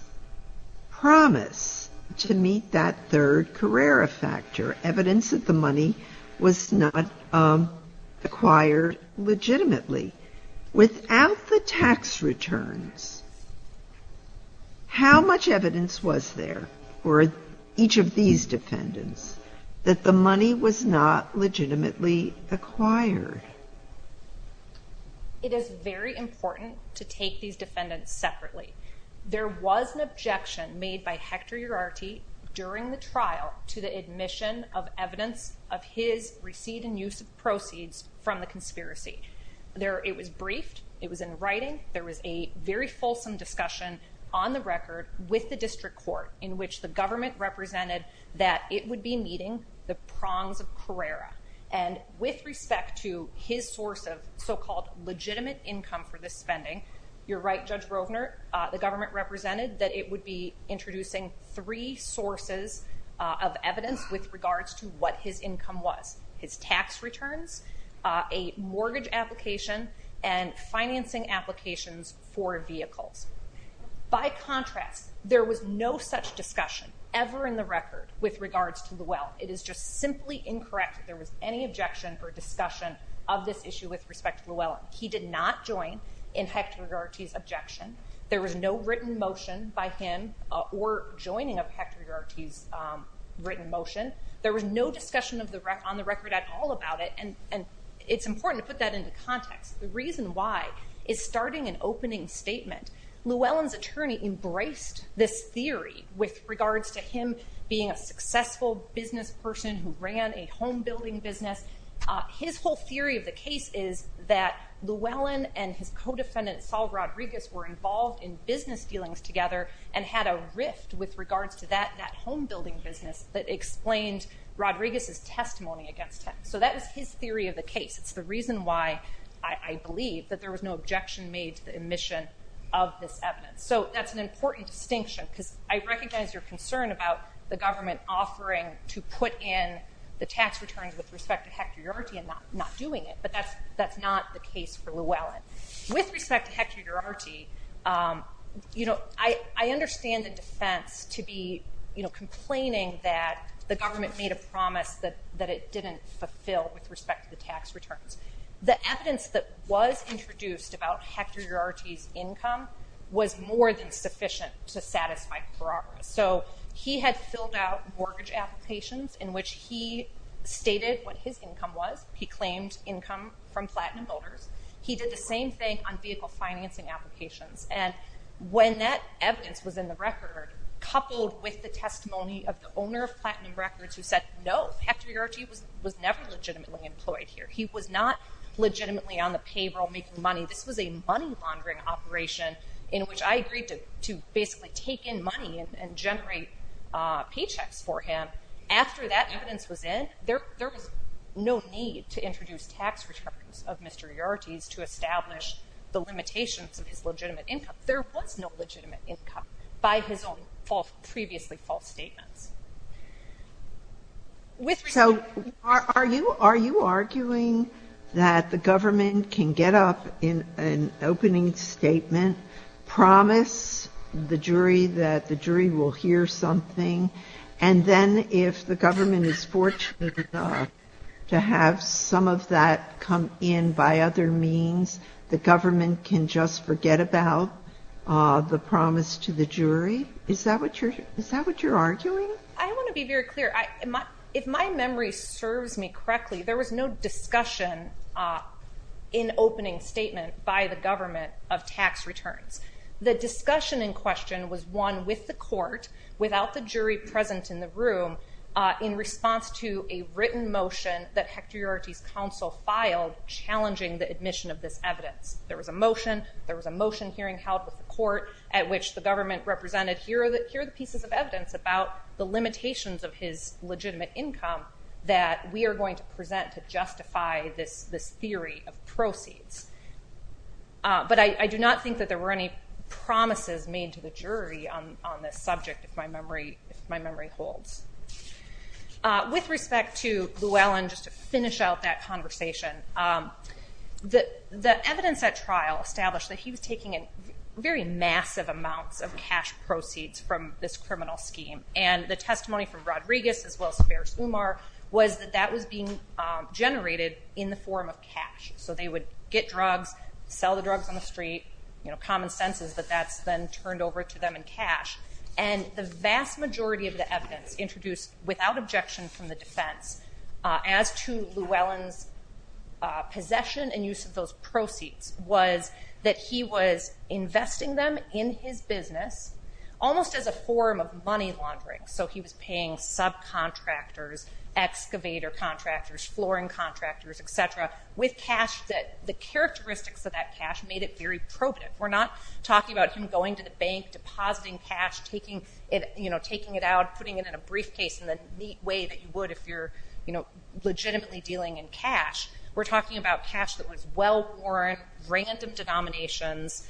promise to meet that third Carrera factor, evidence that the money was not acquired legitimately. Without the tax returns, how much evidence was there for each of these defendants that the money was not legitimately acquired? It is very important to take these defendants separately. There was an objection made by Hector Uriarte during the trial to the admission of evidence of his receipt and use of proceeds from the conspiracy. It was briefed. It was in writing. There was a very fulsome discussion on the record with the district court in which the government represented that it would be meeting the prongs of Carrera. With respect to his source of so-called legitimate income for this spending, you're right, Judge Roedner, the government represented that it would be introducing three sources of evidence with regards to what his income was. His tax returns, a mortgage application, and financing applications for a vehicle. By contrast, there was no such discussion ever in the record with regards to the wealth. It is just simply incorrect that there was any objection or discussion of this issue with respect to the wealth. He did not join in Hector Uriarte's objection. There was no written motion by him or joining of Hector Uriarte's written motion. There was no discussion on the record at all about it. It's important to put that into context. The reason why is starting an opening statement. Llewellyn's attorney embraced this theory with regards to him being a successful business person who ran a home building business. His whole theory of the case is that Llewellyn and his co-defendant, Saul Rodriguez, were involved in business dealings together and had a rift with regards that home building business that explains Rodriguez's testimony against him. That is his theory of the case. It's the reason why I believe that there was no objection made to the admission of this evidence. That's an important distinction because I recognize your concern about the government offering to put in the tax returns with respect to Hector Uriarte and not doing it, but that's not the case for Llewellyn. With respect to Hector Uriarte, I understand the defense to be complaining that the government made a promise that it didn't fulfill with respect to the tax returns. The evidence that was introduced about Hector Uriarte's income was more than sufficient to satisfy the prerogative. So he had filled out mortgage applications in which he stated what his income was. He claimed income from Platinum Builders. He did the same thing on vehicle financing applications. And when that evidence was in the record, coupled with the testimony of the owner of Platinum Records who said, no, Hector Uriarte was never legitimately employed here. He was not legitimately on the payroll making money. This was a money laundering operation in which I agreed to basically take in money and generate paychecks for him. After that evidence was in, there was no need to introduce tax returns of Mr. Uriarte to establish the limitations of his legitimate income. There was no legitimate income by his own previously false statement. With respect to Hector Uriarte, I understand the defense to be complaining that the government can get up in an opening statement, promise the jury that the jury will hear something, and then if the government is fortunate enough to have some of that come in by other means, the government can just forget about the promise to the jury. Is that what you're arguing? I want to be very clear. If my memory serves me correctly, there was no discussion in opening statement by the government of tax returns. The discussion in question was one with the court without the jury present in the room in response to a written motion that Hector Uriarte's counsel filed challenging the admission of this evidence. There was a motion. There was a motion here in the house of the court at which the government represented here are the pieces of evidence about the limitations of his legitimate income that we are going to present to justify this theory of proceeds. But I do not think that there were any promises made to the jury on this subject, if my memory holds. With respect to Llewellyn, just to finish out that conversation, the evidence at trial established that he was taking very massive amounts of cash proceeds from this criminal scheme. And the testimony from Rodriguez as well as Umar was that that was being generated in the form of cash. So they would get drugs, sell the drugs on the street, common sense is that that's been turned over to them in cash. And the vast majority of the evidence introduced without objection from the defense as to Llewellyn's possession and use of those proceeds was that he was investing them in his business almost as a form of money laundering. So he was paying subcontractors, excavator contractors, flooring contractors, et cetera, with cash that the characteristics of that cash made it very probative. We're not talking about him going to the bank, depositing cash, taking it out, putting it in a briefcase in the neat way that you would if you're legitimately dealing in cash. We're talking about cash that was well-sourced, random denominations,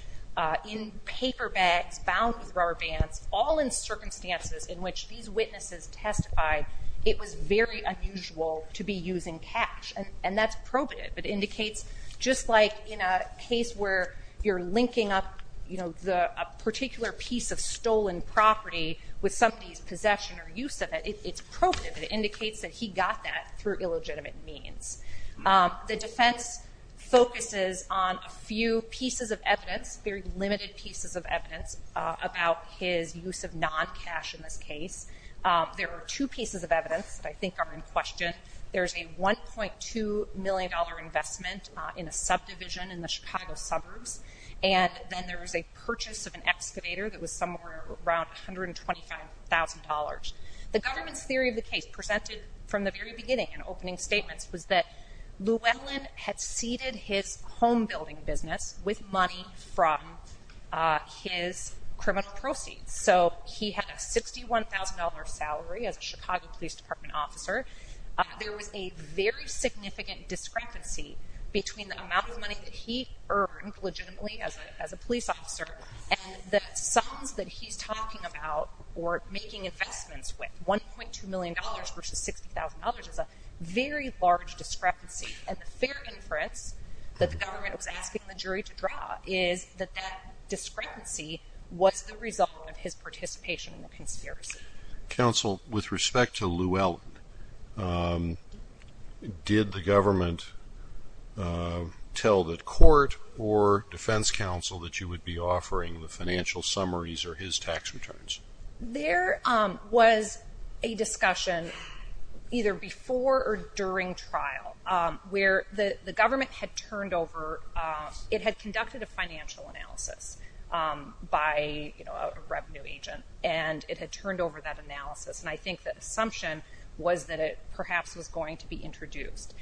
in paper bags, found in rubber bands, all in circumstances in which these witnesses testified it was very unusual to be using cash. And that's probative. It indicates just like in a case where you're linking up a particular piece of stolen property with somebody's possession or use of it, it's probative. It indicates that he got that through illegitimate means. The defense focuses on a few pieces of evidence, very limited pieces of evidence, about his use of non-cash in this case. There are two pieces of evidence that I think are in question. There's a $1.2 million investment in a subdivision in the Chicago suburbs. And then there was a purchase of an excavator that was somewhere around $125,000. The government's theory of the case presented from the very beginning in opening statements was that Llewellyn had ceded his home building business with money from his criminal proceeds. So he had a $51,000 salary as a Chicago Police Department officer. There was a very significant discrepancy between the amount of money that he earned legitimately as a police officer and the sums that he's talking about or making investments with. $1.2 million versus $60,000 is a very large discrepancy. As a fair inference that the government was asking the jury to draw is that that discrepancy was the result of his participation in the conspiracy. MR. LOGSDON. Counsel, with respect to Llewellyn, did the government tell the court or defense counsel that you would be offering the financial summaries or his tax returns? MS. A discussion either before or during trial where the government had turned over, it had conducted a financial analysis by a revenue agent and it had turned over that analysis. I think the assumption was that it perhaps was going to be introduced.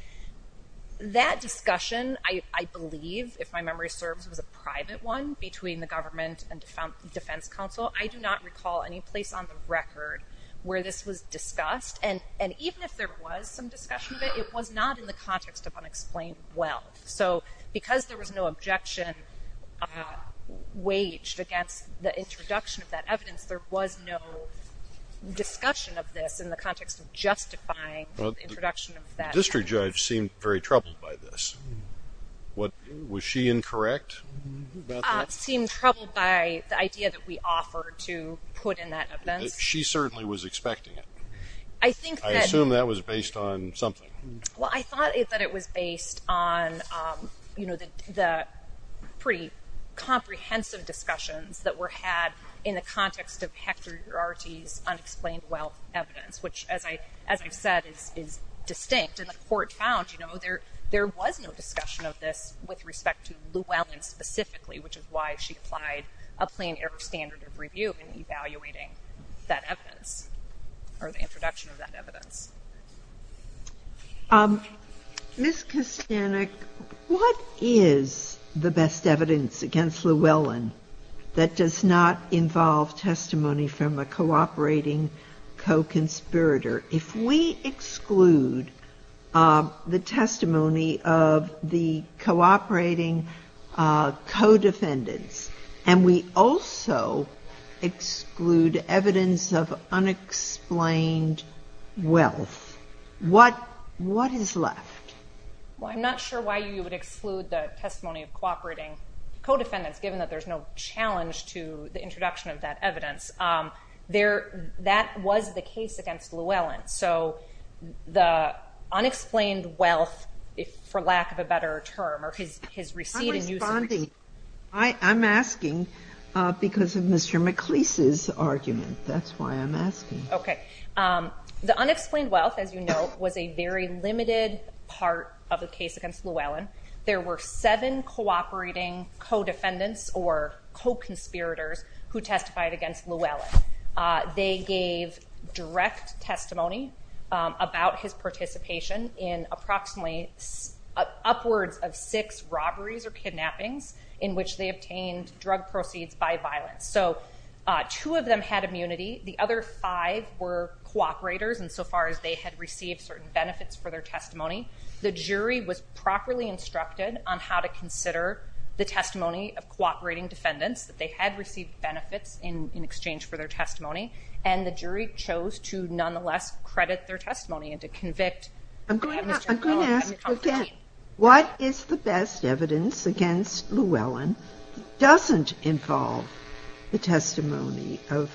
That discussion, I believe, if my memory serves, was a private one between the government and defense counsel. I do not recall any place on the record where this was discussed. And even if there was some discussion of it, it was not in the context of unexplained wealth. So because there was no objection waged against the introduction of that evidence, there was no discussion of this in the context of justifying the introduction of that. MR. LOGSDON. The district judge seemed very troubled by this. Was she incorrect about that? MS. A. She certainly was expecting it. MR. LOGSDON. I assume that was based on something. MS. A. Well, I thought that it was based on, you know, the pretty comprehensive discussions that were had in the context of Hector Duarte's unexplained wealth evidence, which, as I said, is distinct. And the court found, you know, there was no discussion of this with respect to Lewallen specifically, which is why she applied a plain error standard of review in evaluating that evidence or the introduction of that evidence. GOTTLIEB. Ms. Kostanek, what is the best evidence against Lewallen that does not involve testimony from a cooperating co-conspirator? If we exclude the testimony of the cooperating co-defendants and we also exclude evidence of unexplained wealth, what is left? MS. KOSTANEK. Well, I'm not sure why you would exclude the testimony of cooperating co-defendants, given that there's no challenge to the introduction of that evidence. There, that was the case against Lewallen. So, the unexplained wealth, for lack of a better term, or his receipt. GOTTLIEB. I'm responding, I'm asking because of Mr. McLeese's argument. That's why I'm asking. MS. KOSTANEK. Okay. The unexplained wealth, as you know, was a very limited part of the case against Lewallen. There were seven cooperating co-defendants or co-conspirators who testified against Lewallen. They gave direct testimony about his participation in approximately upwards of six robberies or kidnappings in which they obtained drug proceeds by violence. So, two of them had immunity. The other five were cooperators insofar as they had received certain benefits for their testimony. The jury was properly instructed on how to consider the testimony of cooperating defendants that they had received benefits in exchange for their testimony, and the jury chose to nonetheless credit their testimony and to convict. GOTTLIEB. I'm going to ask, okay, what is the best evidence against Lewallen that doesn't involve the testimony of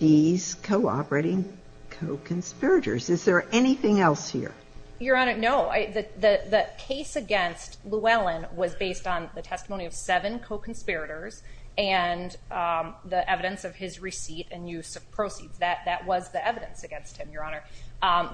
these cooperating co-conspirators? Is there anything else here? MS. GOTTLIEB. The case against Lewallen was based on the testimony of seven co-conspirators and the evidence of his receipt and use of proceeds. That was the evidence against him, Your Honor.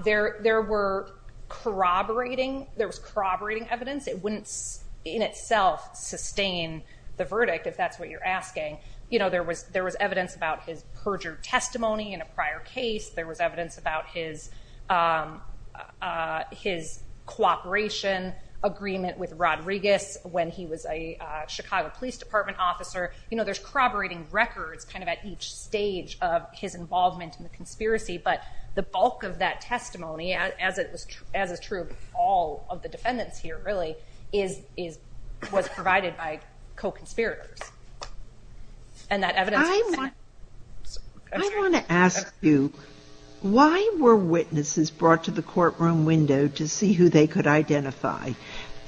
There was corroborating evidence. It wouldn't in itself sustain the verdict, if that's what you're asking. You know, there was evidence about his perjured testimony in a prior case. There was evidence about his cooperation agreement with Rodriguez when he was a Chicago Police Department officer. You know, there's corroborating records kind of at each stage of his involvement in the conspiracy, but the bulk of that testimony, as is true of all of the defendants here, really, was provided by co-conspirators, and that evidence… I want to ask you, why were witnesses brought to the courtroom window to see who they could identify?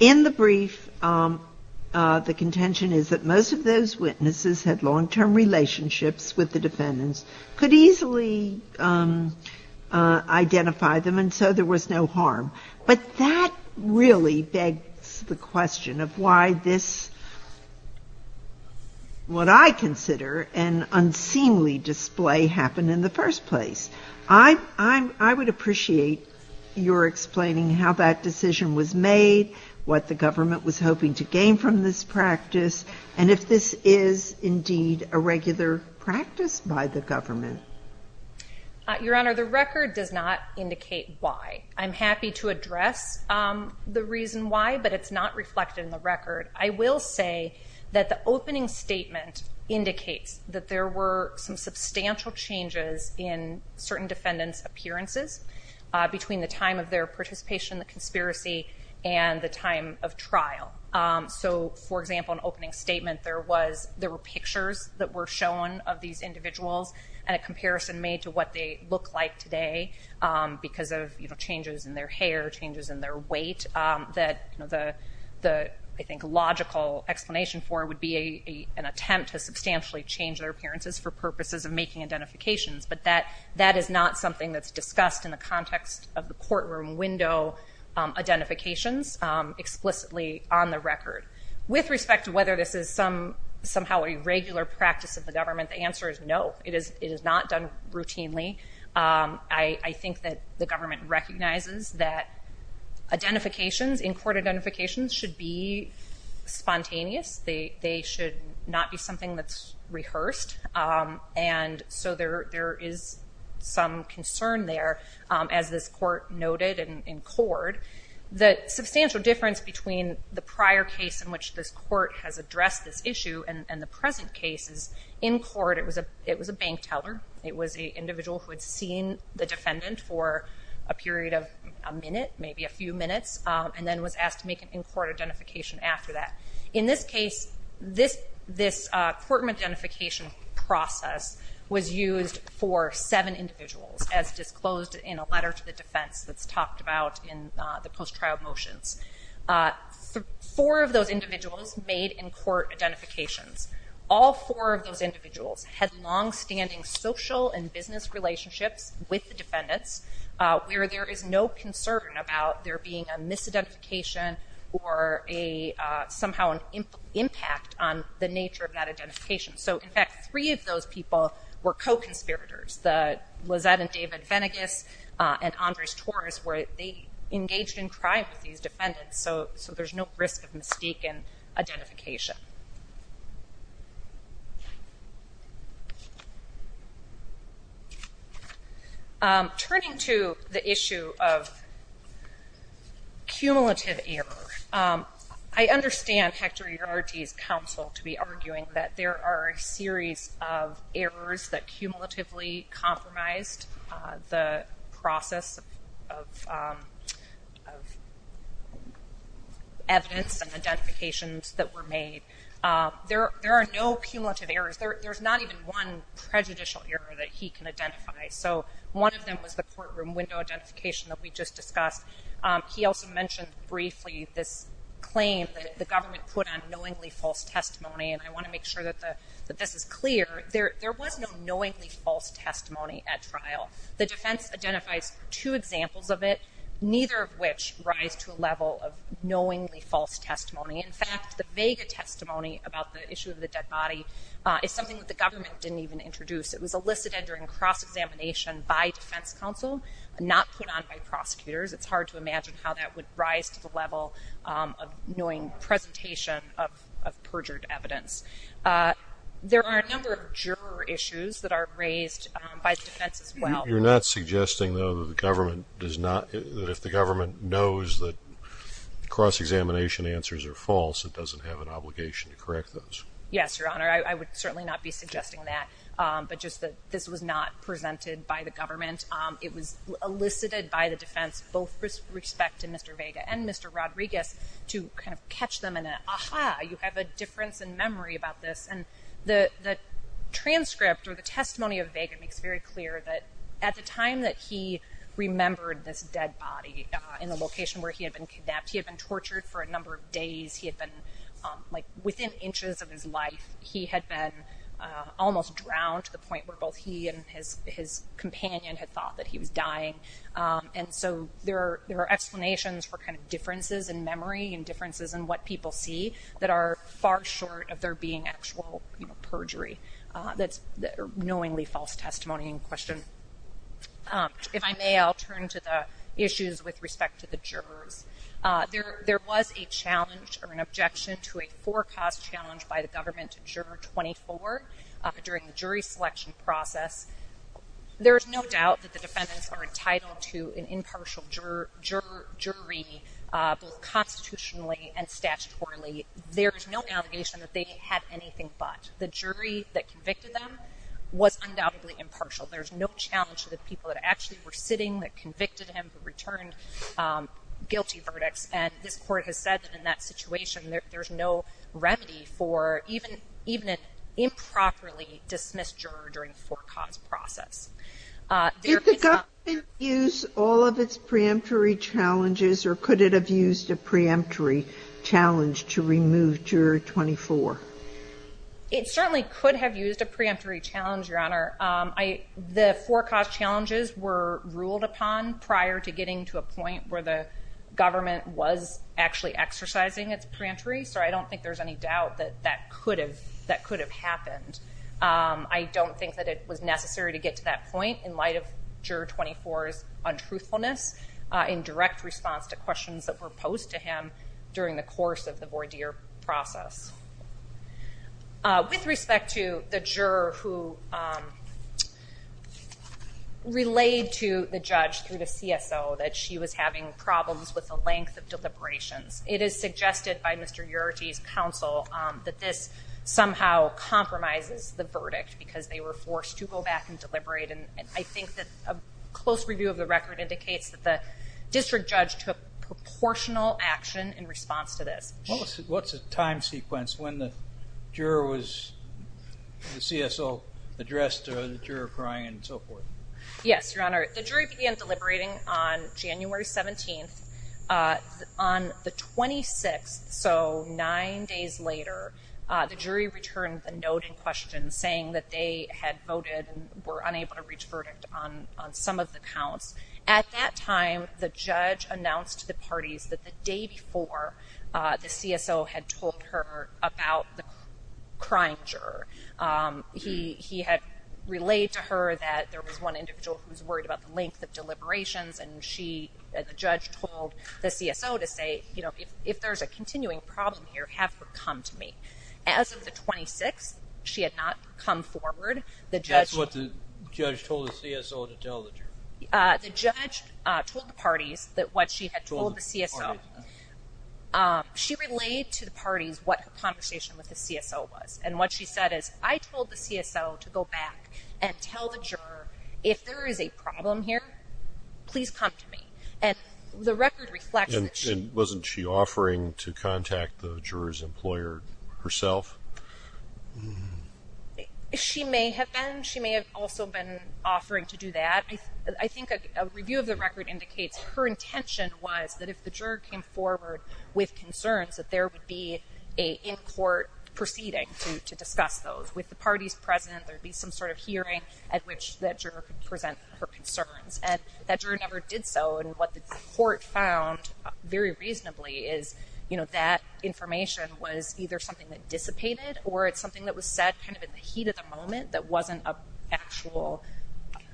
In the brief, the contention is that most of those witnesses had long-term relationships with the defendants, could easily identify them, and so there was no harm. But that really begs the question of why this, what I consider an unseemly display, happened in the first place. I would appreciate your explaining how that decision was made, what the government was hoping to gain from this practice, and if this is, indeed, a regular practice by the government. Your Honor, the record does not indicate why. I'm happy to address the reason why, but it's not reflected in the record. I will say that the opening statement indicates that there were some substantial changes in certain defendants' appearances between the time of their participation in the conspiracy and the time of trial. So, for example, in the opening statement, there were pictures that were shown of these changes in their hair, changes in their weight, that the, I think, logical explanation for would be an attempt to substantially change their appearances for purposes of making identifications, but that is not something that's discussed in the context of the courtroom window identifications explicitly on the record. With respect to whether this is somehow a regular practice of the government, the answer is no, it is not done routinely. I think that the government recognizes that identifications, in-court identifications, should be spontaneous. They should not be something that's rehearsed, and so there is some concern there, as this court noted in court. The substantial difference between the prior case in which this court has addressed this issue and the present case is, in court it was a bank teller. It was the individual who had seen the defendant for a period of a minute, maybe a few minutes, and then was asked to make an in-court identification after that. In this case, this courtroom identification process was used for seven individuals, as disclosed in a letter to the defense that's talked about in the post-trial motions. Four of those individuals made in-court identifications. All four of those individuals had long-standing social and business relationships with the defendants, where there is no concern about there being a misidentification or somehow an impact on the nature of that identification. So, in fact, three of those people were co-conspirators. Lizette and David Venegas and Andres Torres, they engaged in crimes with these defendants, so there's no risk of mistaken identification. Turning to the issue of cumulative errors, I understand Hector Ilarte's counsel to be arguing that there are a series of errors that cumulatively compromised the process of evidence and the identifications that were made. There are no cumulative errors. There's not even one prejudicial error that he can identify, so one of them was the courtroom window identification that we just discussed. He also mentioned briefly this claim that the government put on knowingly false testimony, and I want to make sure that this is clear. There was no knowingly false testimony at trial. The defense identified two examples of it, neither of which rise to a level of knowingly false testimony. In fact, the Vega testimony about the issue of the dead body is something that the government didn't even introduce. It was elicited during cross-examination by defense counsel, not put on by prosecutors. It's hard to imagine how that would rise to the level of knowing presentation of perjured evidence. There are a number of juror issues that are raised by defense as well. You're not suggesting, though, that the government does not – that if the government knows that cross-examination answers are false, it doesn't have an obligation to correct those? Yes, Your Honor. I would certainly not be suggesting that, but just that this was not presented by the government. It was elicited by the defense, both with respect to Mr. Vega and Mr. Rodriguez, to kind of catch them in an ah-ha, you have a difference in memory about this. And the transcript or the testimony of Vega makes it very clear that at the time that he remembered this dead body in a location where he had been kidnapped, he had been tortured for a number of days. He had been – like, within inches of his life, he had been almost drowned to the point where both he and his companion had thought that he was dying. And so there are explanations for kind of differences in memory and differences in what people see that are far short of there being actual perjury that are knowingly false testimony in question. If I may, I'll turn to the issues with respect to the juror. There was a challenge or an objection to a four-cost challenge by the government to Juror 24 during the jury selection process. There is no doubt that the defendants are entitled to an impartial jury, both constitutionally and statutorily. There is no navigation that they had anything but. The jury that convicted them was undoubtedly impartial. There's no challenge to the people that actually were sitting that convicted him who returned guilty verdicts. And this court has said that in that situation, there's no remedy for even an improperly dismissed juror during the four-cost process. Is the government going to use all of its preemptory challenges, or could it have used a preemptory challenge to remove Juror 24? The four-cost challenges were ruled upon prior to getting to a point where the government was actually exercising its preemptory, so I don't think there's any doubt that that could have happened. I don't think that it was necessary to get to that point in light of Juror 24's untruthfulness in direct response to questions that were posed to him during the course of the voir dire process. With respect to the juror who relayed to the judge through the CSO that she was having problems with the length of deliberation, it is suggested by Mr. Uroje's counsel that this somehow compromises the verdict because they were forced to go back and deliberate, and I think that a close review of the record indicates that the district judge took proportional action in response to this. What's the time sequence when the juror was, when the CSO addressed the juror crying and so forth? Yes, Your Honor, the jury began deliberating on January 17th. On the 26th, so nine days later, the jury returned a noted question saying that they had voted and were unable to reach a verdict on some of the counts. At that time, the judge announced to the parties that the day before, the CSO had told her about the crime juror. He had relayed to her that there was one individual who was worried about the length of deliberations and she, as a judge, told the CSO to say, you know, if there's a continuing problem here, have her come to me. As of the 26th, she had not come forward. The judge told the parties that what she had told the CSO, she relayed to the parties what her conversation with the CSO was. And what she said is, I told the CSO to go back and tell the juror, if there is a problem here, please come to me. And the record reflects this. And wasn't she offering to contact the juror's employer herself? She may have been. She may have also been offering to do that. I think a review of the record indicates her intention was that if the juror came forward with concerns that there would be an in-court proceeding to discuss those. With the parties present, there would be some sort of hearing at which that juror could present her concerns. And that juror never did so. And what the court found very reasonably is, you know, that information was either something that dissipated or it's something that was said kind of in the heat of the moment that wasn't an actual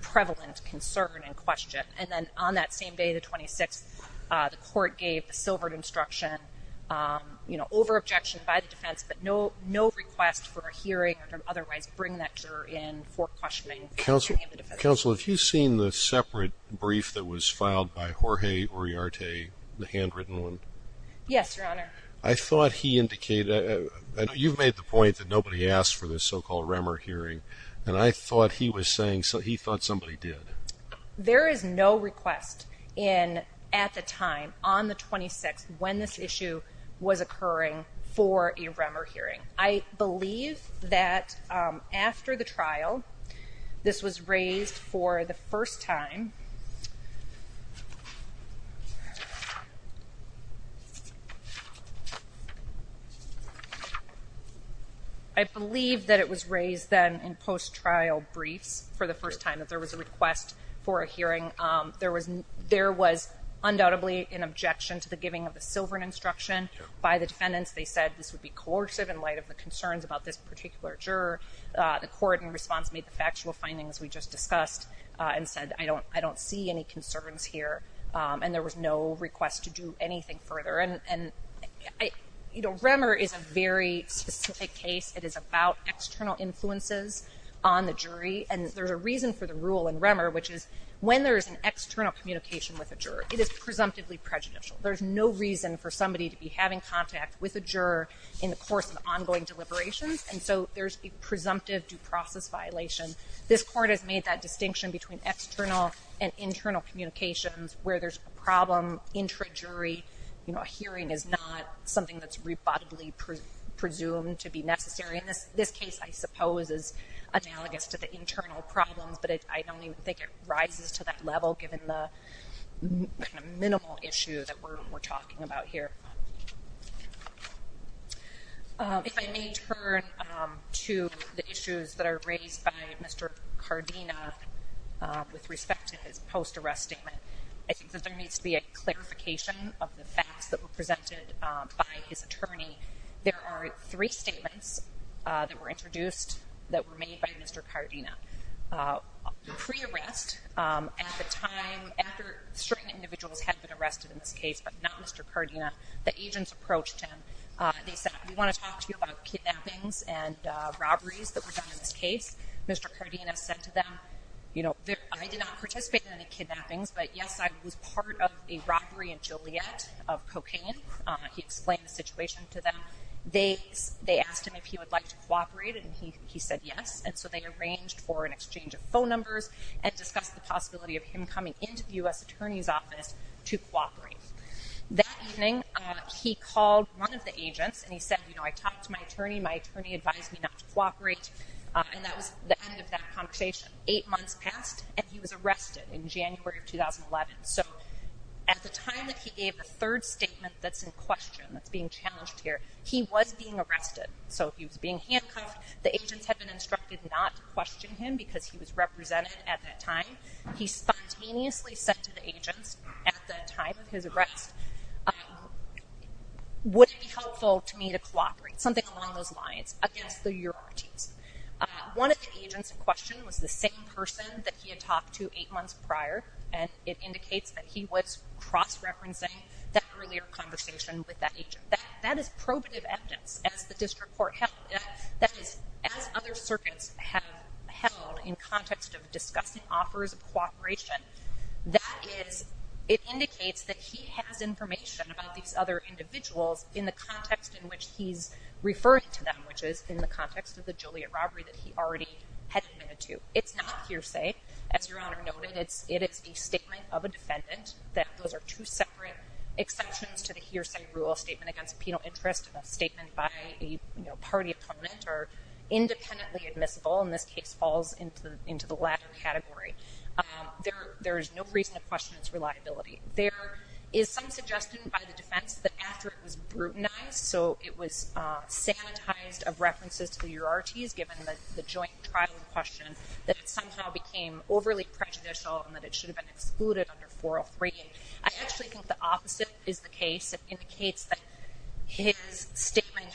prevalent concern in question. And then on that same day, the 26th, the court gave silvered instruction, you know, over objection by the defense that no request for a hearing or otherwise bring that juror in for questioning. Counsel, have you seen the separate brief that was filed by Jorge Uriarte, the handwritten one? Yes, Your Honor. I thought he indicated, you've made the point that nobody asked for this so-called Remmer hearing. And I thought he was saying, he thought somebody did. There is no request in, at the time, on the 26th, when this issue was occurring for a Remmer hearing. I believe that after the trial, this was raised for the first time. I believe that it was raised then in post-trial brief for the first time that there was a request for a hearing. There was undoubtedly an objection to the giving of the silvered instruction by the defendants. They said this would be coercive in light of the concerns about this particular juror. The court in response made the factual findings we just discussed and said, I don't see any concerns here. And there was no request to do anything further. And, you know, Remmer is a very specific case. It is about external influences on the jury. And there's a reason for the rule in Remmer, which is when there's an external communication with a juror, it is presumptively prejudicial. There's no reason for somebody to be having contact with a juror in the course of ongoing deliberations. And so there's a presumptive due process violation. This court has made that distinction between external and internal communications where there's a problem intra-jury. You know, a hearing is not something that's rebuttably presumed to be necessary. And this case, I suppose, is analogous to the internal problem. But I don't even think it rises to that level given the minimal issue that we're talking about here. If I may turn to the issues that are raised by Mr. Cardina with respect to his post-arrest statement, I think there needs to be a clarification of the facts that were presented by his attorney. There are three statements that were introduced that were made by Mr. Cardina. Pre-arrest, at the time, after certain individuals had been arrested in this case, but not Mr. Cardina, the agents approached him. They said, we want to talk to you about kidnappings and robberies that were done in this case. Mr. Cardina said to them, you know, I did not participate in any kidnappings, but yes, I was part of a robbery in Joliet of cocaine. He explained the situation to them. They asked him if he would like to cooperate, and he said yes. And so they arranged for an exchange of phone numbers and discussed the possibility of him coming into the U.S. Attorney's Office to cooperate. That evening, he called one of the agents and he said, you know, I talked to my attorney, my attorney advised me not to cooperate, and that was the end of that conversation. Eight months passed, and he was arrested in January of 2011. So at the time that he gave the third statement that's in question, that's being challenged here, he was being arrested. So he was being handcuffed. The agents had been instructed not to question him because he was represented at that time. He spontaneously said to the agents at the time of his arrest, would it be helpful to me to cooperate? Something along those lines. Again, so you're watching. One of the agents' questions was the same person that he had talked to eight months prior, and it indicates that he was cross-referencing that earlier conversation with that agent. That is probative evidence, as the district court held it. That is, as other circuits have held in context of discussing offers of cooperation, that is, it indicates that he has information about these other individuals in the context in which he's referring to them, which is in the context of the Juliet robbery that he already had committed to. It's not hearsay, as Your Honor noted. It is a statement of a defendant. That those are two separate exceptions to the hearsay rule, a statement against a penal interest, and a statement by the party of comment are independently admissible, and this case falls into the latter category. There is no reason to question its reliability. There is some suggestion by the defense that after it was brutalized, so it was standardized of references to Eurarties, given that the joint trial question, that it sometimes now I actually think the opposite is the case. It indicates that his statement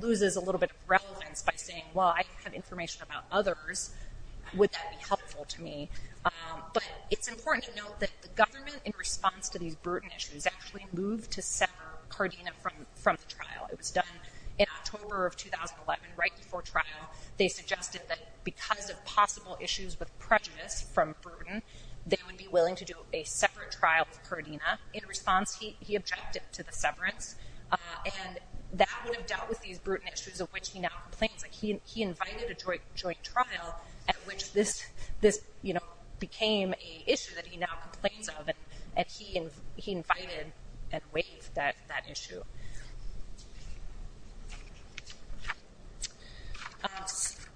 loses a little bit of relevance by saying, well, I have information about others. Would that be helpful to me? But it's important to note that the government, in response to these burden issues, actually moved to separate Cardina from the trial. It was done in October of 2011, right before trial. They suggested that because of possible issues with prejudice from burden, they would be a separate trial for Cardina. In response, he objected to the severance, and that would have dealt with these issues of which he now complains, but he invited a joint trial at which this became an issue that he now complains of, and he invited and waived that issue.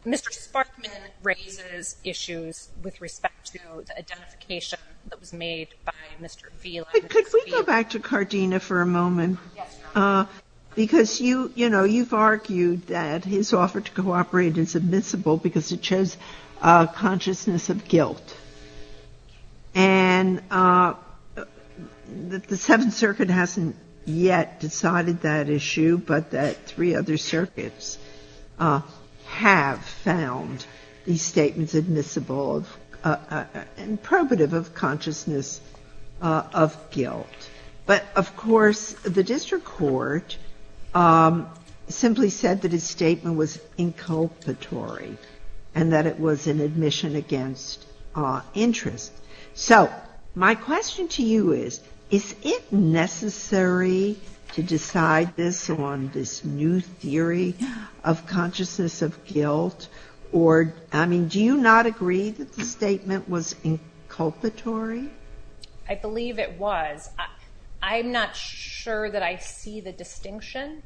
Ms. Sparkman raises issues with respect to the identification that was made by Mr. Beale. Could we go back to Cardina for a moment? Because you've argued that his offer to cooperate is admissible because it shows a consciousness of guilt. And the Seventh Circuit hasn't yet decided that issue, but the three other circuits have found these statements admissible and probative of consciousness of guilt. But, of course, the district court simply said that his statement was inculpatory and that it was an admission against interest. So, my question to you is, is it necessary to decide this on this new theory of consciousness of guilt? Or, I mean, do you not agree that the statement was inculpatory? I believe it was. I'm not sure that I see the distinction.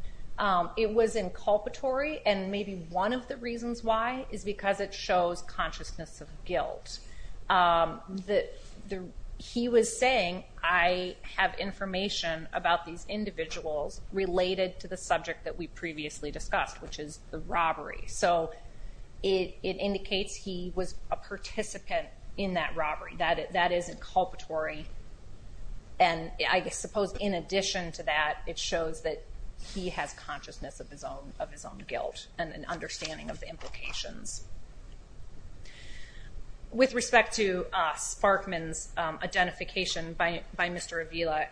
It was inculpatory, and maybe one of the reasons why is because it shows consciousness of guilt. He was saying, I have information about these individuals related to the subject that we previously discussed, which is the robbery. So, it indicates he was a participant in that robbery. That is inculpatory. And I suppose in addition to that, it shows that he has consciousness of his own guilt and an understanding of the implications. With respect to Sparkman's identification by Mr. Avila,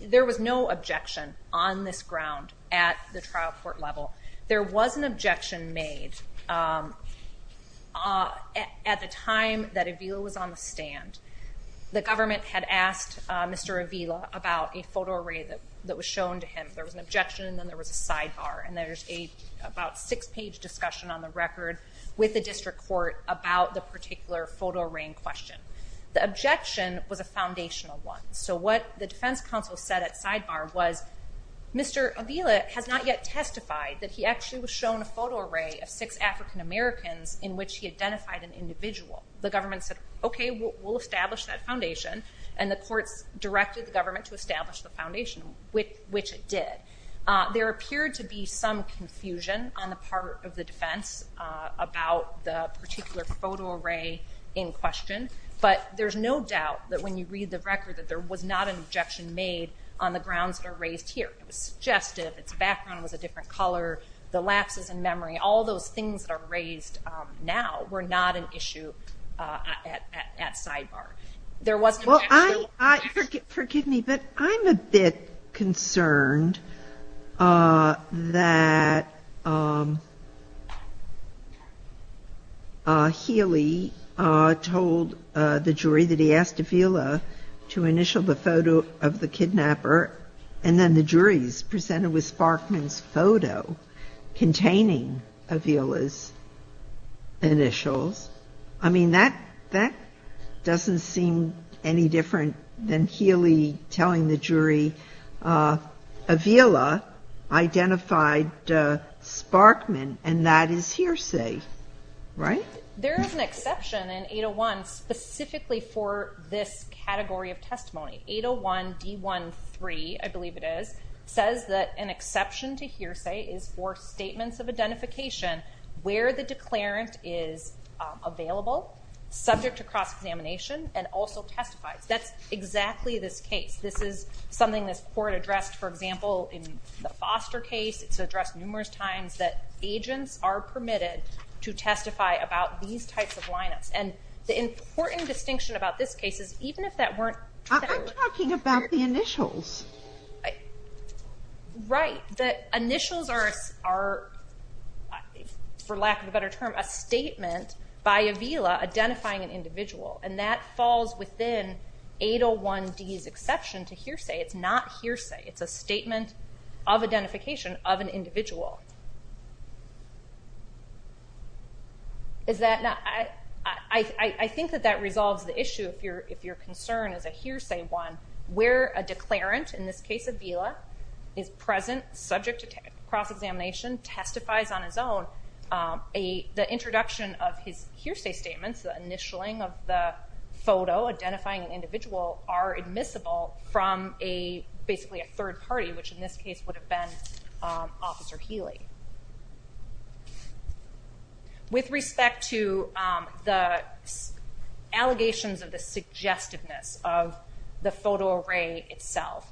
there was no objection on this ground at the trial court level. There was an objection made at the time that Avila was on the stand. The government had asked Mr. Avila about a photo array that was shown to him. There was an objection, and then there was a sidebar. And there was about a six-page discussion on the record with the district court about the particular photo array in question. The objection was a foundational one. So, what the defense counsel said at sidebar was, Mr. Avila has not yet testified that he actually was shown a photo array of six African Americans in which he identified an individual. The government said, okay, we'll establish that foundation. And the court directed the government to establish the foundation, which it did. There appeared to be some confusion on the part of the defense about the particular photo array in question. But there's no doubt that when you read the record that there was not an objection made on the grounds that are raised here. It was suggested that the background was a different color, the last is in memory. All those things that are raised now were not an issue at sidebar. There was- Well, forgive me, but I'm a bit concerned that Healy told the jury that he asked Avila to initial the photo of the kidnapper, and then the jury was presented with Sparkman's photo containing Avila's initials. I mean, that doesn't seem any different than Healy telling the jury Avila identified Sparkman and that is hearsay, right? There is an exception in 801 specifically for this category of testimony. 801B13, I believe it is, says that an exception to hearsay is for statements of identification where the declarant is available, subject to cross-examination, and also testified. That's exactly the case. This is something the court addressed, for example, in the Foster case. It's addressed numerous times that agents are permitted to testify about these types of lineups. The important distinction about this case is even if that weren't- I'm talking about the initials. Right. The initials are, for lack of a better term, a statement by Avila identifying an individual, and that falls within 801D's exception to hearsay. It's not hearsay. It's a statement of identification of an individual. I think that that resolves the issue if your concern is a hearsay one, where a declarant, in this case Avila, is present, subject to cross-examination, testifies on his own, the introduction of his hearsay statements, the initialing of the photo identifying the individual are admissible from basically a third party, which in this case would have been Officer Healy. With respect to the allegations of the suggestiveness of the photo array itself,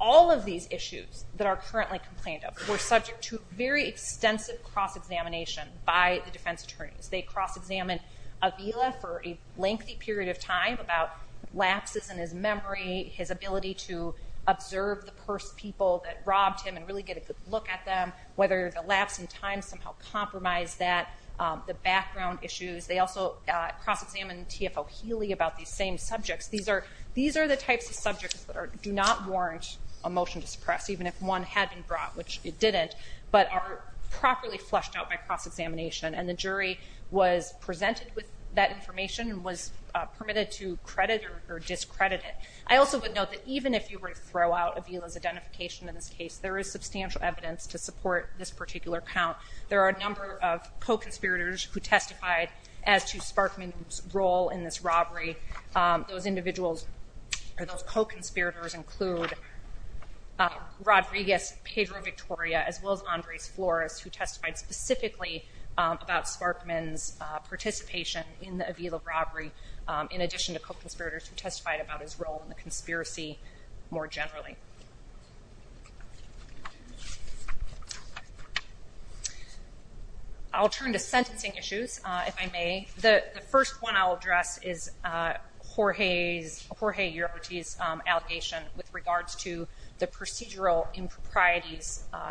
all of these issues that are currently complained of were subject to very extensive cross-examination by the defense attorneys. They cross-examined Avila for a lengthy period of time about lapses in his memory, his ability to observe the first people that robbed him and really get a good look at them, whether the lapse in time somehow compromised that, the background issues. They also cross-examined T.F.O. Healy about these same subjects. These are the types of subjects that do not warrant a motion to suppress, even if one had been brought, which it didn't, but are properly flushed out by cross-examination, and the jury was presented with that information and was permitted to credit or discredit it. I also would note that even if you were to throw out Avila's identification in this case, there is substantial evidence to support this particular count. There are a number of co-conspirators who testified as to Sparkman's role in this robbery. Those individuals or those co-conspirators include Rodriguez Pedro Victoria, as well as Andre Flores, who testified specifically about Sparkman's participation in the Avila conspiracy more generally. I'll turn to sentencing issues, if I may. The first one I'll address is Jorge Uribe's allegation with regards to the procedural impropriety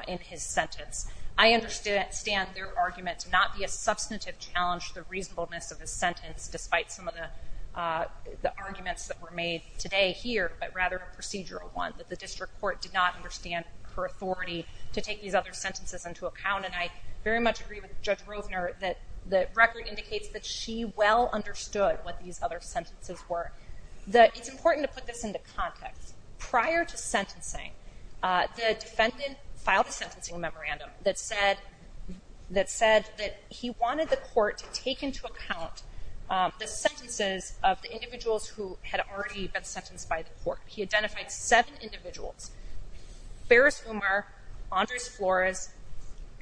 in his sentence. I understand their argument to not be a substantive challenge to the reasonableness of his sentence, despite some of the arguments that were made today here, but rather a procedural one, that the district court did not understand her authority to take these other sentences into account. And I very much agree with Judge Roedner that the record indicates that she well understood what these other sentences were. It's important to put this into context. Prior to sentencing, the defendant filed a sentencing memorandum that said that he wanted the court to take into account the sentences of the individuals who had already been sentenced by the court. He identified seven individuals, Ferris Umar, Andre Flores,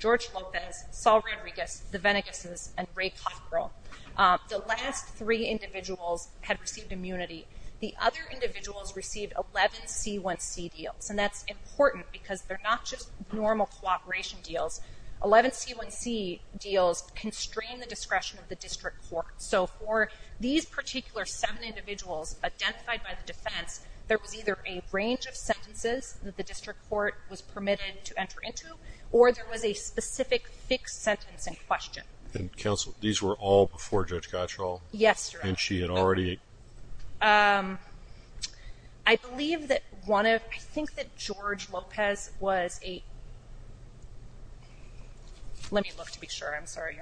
Jorge Lopez, Saul Rodriguez, the Venegases, and Ray Cockrell. The last three individuals had received immunity. The other individuals received 11 C1C deals. And that's important because they're not just normal cooperation deals. 11 C1C deals constrain the discretion of the district court. So for these particular seven individuals identified by the defense, there was either a range of sentences that the district court was permitted to enter into, or there was a specific six-sentence in question. And counsel, these were all before Judge Cottrell? Yes, sir. And she had already? Um, I believe that one of, I think that George Lopez was a, let me look to be sure, I'm sorry.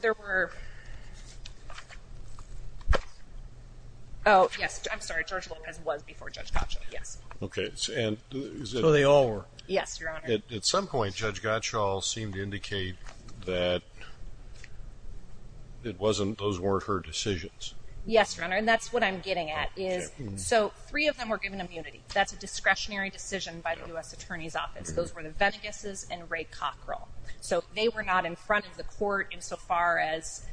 There were, oh, yes, I'm sorry, George Lopez was before Judge Cottrell, yes. Okay, and so they all were? Yes, your honor. At some point, Judge Gottschall seemed to indicate that it wasn't, those weren't her decisions. Yes, your honor, and that's what I'm getting at is, so three of them were given immunity. That's a discretionary decision by the U.S. Attorney's Office. Those were the Venegases and Ray Cockrell. So they were not in front of the court insofar as,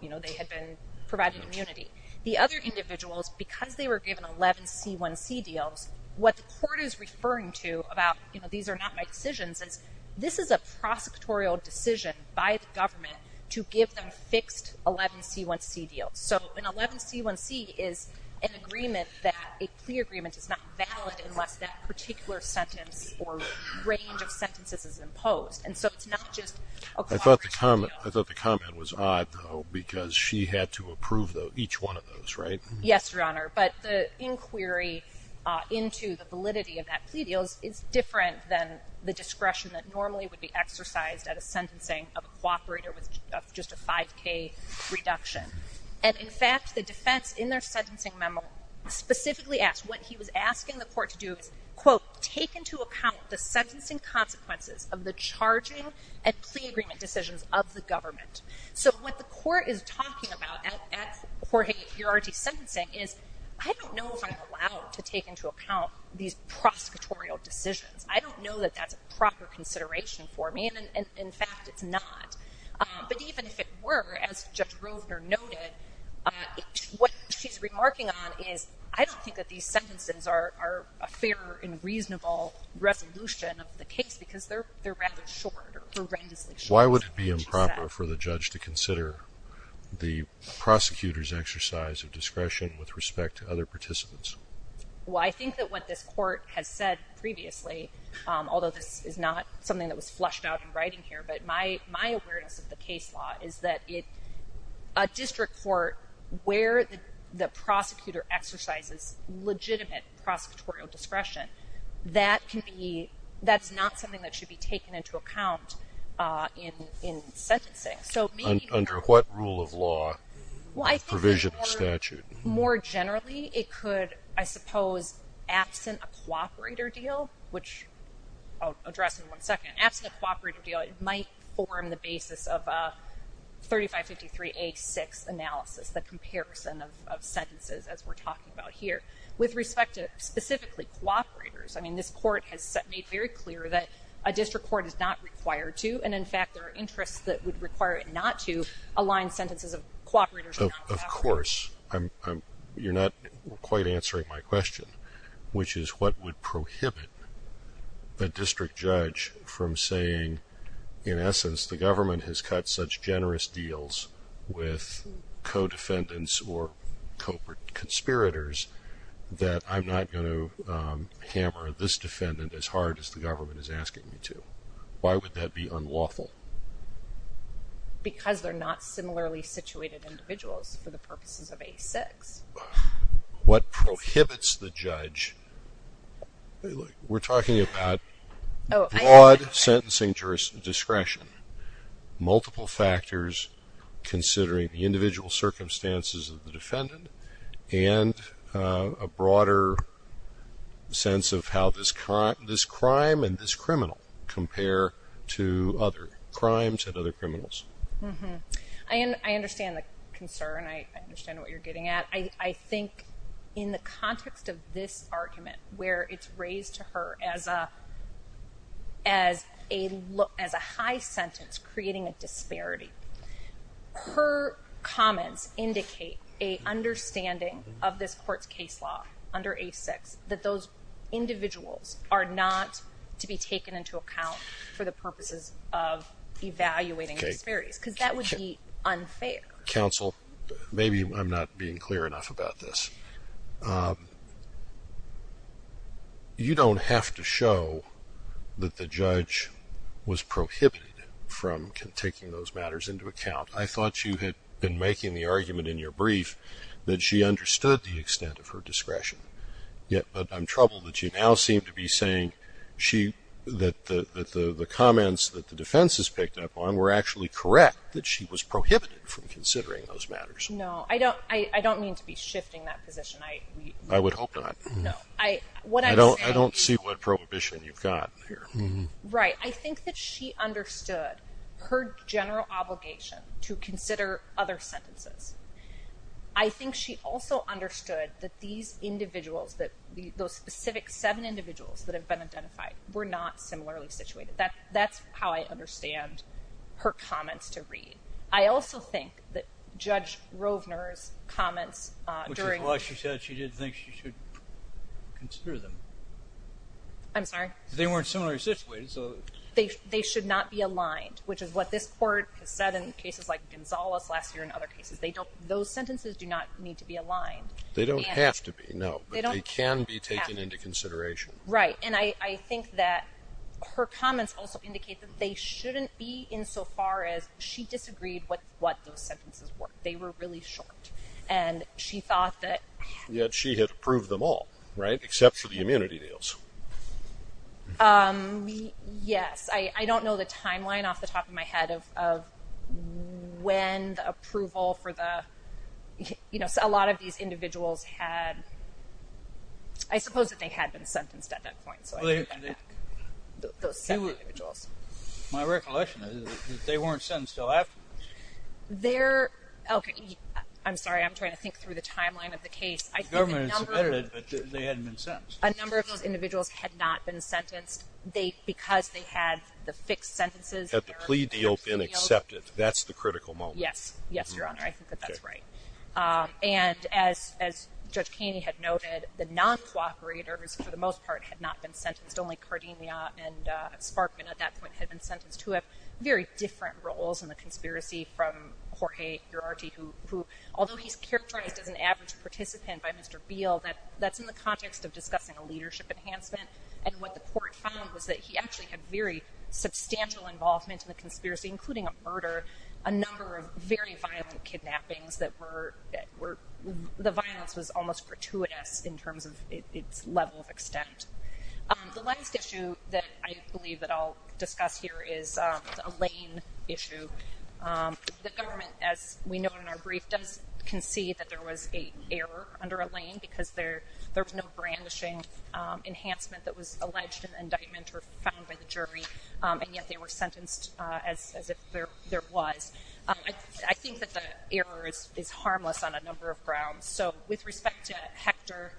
you know, they had been provided immunity. The other individuals, because they were given 11 C1C deals, what the court is referring to about, you know, these are not my decisions, and this is a prosecutorial decision by the government to give them fixed 11 C1C deals. So an 11 C1C is an agreement that, a plea agreement is not valid unless that particular sentence or range of sentences is imposed. And so it's not just, okay. I thought the comment, I thought the comment was odd, though, because she had to approve each one of those, right? Yes, your honor, but the inquiry into the validity of that plea deal is different than the discretion that normally would be exercised at a sentencing of a cooperator with just a 5K reduction. And in fact, the defense in their sentencing memo specifically asked what he was asking the court to do, quote, take into account the sentencing consequences of the charging and plea agreement decisions of the government. So what the court is talking about at court in jurisdiction sentencing is, I don't know if I'm allowed to take into account these prosecutorial decisions. I don't know that that's a proper consideration for me, and in fact, it's not. But even if it were, as Judge Grosner noted, what she's remarking on is, I don't think that these sentences are a fair and reasonable resolution of the case, because they're rather short. Why would it be improper for the judge to consider the prosecutor's exercise of discretion with respect to other participants? Well, I think that what this court has said previously, although this is not something that was flushed out in writing here, but my awareness of the case law is that a district court where the prosecutor exercises legitimate prosecutorial discretion, that's not something that should be taken into account in sentencing. So maybe- Under what rule of law is provision of statute? More generally, it could, I suppose, absent a cooperator deal, which I'll address in one second. Absent a cooperator deal, it might form the basis of a 3553A6 analysis, the comparison of sentences, as we're talking about here. With respect to specifically cooperators, I mean, this court has made very clear that a district court is not required to, and in fact, there are interests that would require it not to, align sentences of cooperators with cooperators. Of course. You're not quite answering my question, which is what would prohibit a district judge from saying, in essence, the government has cut such generous deals with co-defendants or conspirators that I'm not going to hammer this defendant as hard as the government is asking me to? Why would that be unlawful? Because they're not similarly situated individuals for the purposes of A6. What prohibits the judge? We're talking about broad sentencing discretion. Multiple factors, considering the individual circumstances of the defendant, and a broader sense of how this crime and this criminal compare to other crimes and other criminals. I understand the concern. I understand what you're getting at. I think in the context of this argument, where it's raised to her as a high sentence, creating a disparity, her comments indicate a understanding of this court's case law under A6 that those individuals are not to be taken into account for the purposes of evaluating disparities, because that would be unsafe. Counsel, maybe I'm not being clear enough about this. You don't have to show that the judge was prohibited from taking those matters into account. I thought you had been making the argument in your brief that she understood the extent of her discretion, yet I'm troubled that she now seemed to be saying that the comments that the defense has picked up on were actually correct, that she was prohibited from considering those matters. No, I don't mean to be shifting that position. I would hope not. I don't see what prohibition you've got here. Right. I think that she understood her general obligation to consider other sentences. I think she also understood that these individuals, those specific seven individuals that have been identified, were not similarly situated. That's how I understand her comments to read. I also think that Judge Rovner's comments during the hearing… Which is why she said she didn't think she should consider them. I'm sorry? They weren't similarly situated, so… They should not be aligned, which is what this court said in cases like Gonzales last year and other cases. Those sentences do not need to be aligned. They don't have to be, no. But they can be taken into consideration. Right. And I think that her comments also indicate that they shouldn't be insofar as she disagreed with what those sentences were. They were really short. And she thought that… Yet she had proved them all, right? Except for the immunity deals. Yes. I don't know the timeline off the top of my head of when the approval for the… You know, a lot of these individuals had… Well, they… My recollection is that they weren't sentenced till afterwards. They're… Okay, I'm sorry. I'm trying to think through the timeline of the case. I think a number of those individuals had not been sentenced because they had the fixed sentences. Had the plea deal been accepted. That's the critical moment. Yes. Yes, Your Honor. I think that that's right. And as Judge Keeney had noted, the non-SWAT operator, for the most part, had not been sentenced. Only Cardenia and Sparkman at that point had been sentenced to it. Very different roles in the conspiracy from Jorge Gerardi, who… Although he's characterized as an average participant by Mr. Beal, that's in the context of discussing a leadership enhancement. And what the court found was that he actually had very substantial involvement in the conspiracy, including a murder, a number of very violent kidnappings that were… The violence was almost gratuitous in terms of its level of extent. The last issue that I believe that I'll discuss here is a lane issue. The government, as we know in our brief, doesn't concede that there was an error under a lane because there's no brandishing enhancement that was alleged in indictment or found by the jury. And yet they were sentenced as if there was. I think that the error is harmless on a number of grounds. So with respect to Hector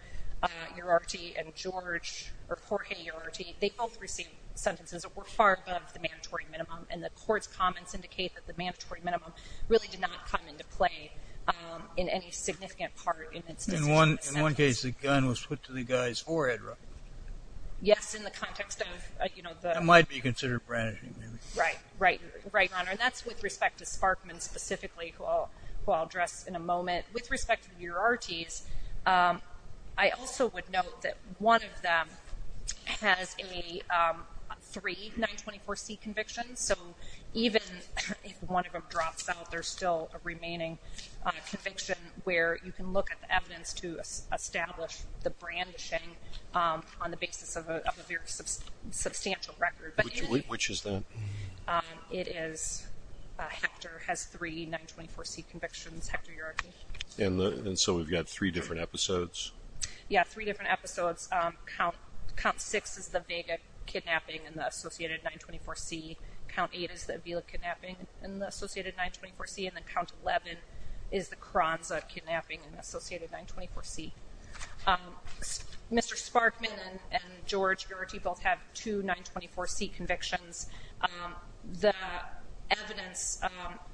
Gerardi and Jorge Gerardi, they both received sentences that were far above the mandatory minimum. And the court's comments indicate that the mandatory minimum really did not come into play in any significant part. In one case, the gun was put to the guy's forehead, roughly. Yes, in the context of, you know, the… Might be considered brandishing. Right, right. Right, Honor. And that's with respect to Sparkman specifically, who I'll address in a moment. With respect to Gerardis, I also would note that one of them has a three 924C conviction. So even if one of them drops out, there's still a remaining conviction where you can get evidence to establish the brandishing on the basis of a very substantial record. Which is that? It is… Hector has three 924C convictions, Hector Gerardi. And so we've got three different episodes. Yeah, three different episodes. Count 6 is the beta kidnapping and the associated 924C. Count 8 is the Avila kidnapping and the associated 924C. And then Count 11 is the Kronza kidnapping and the associated 924C. Mr. Sparkman and George Gerardi both have two 924C convictions. The evidence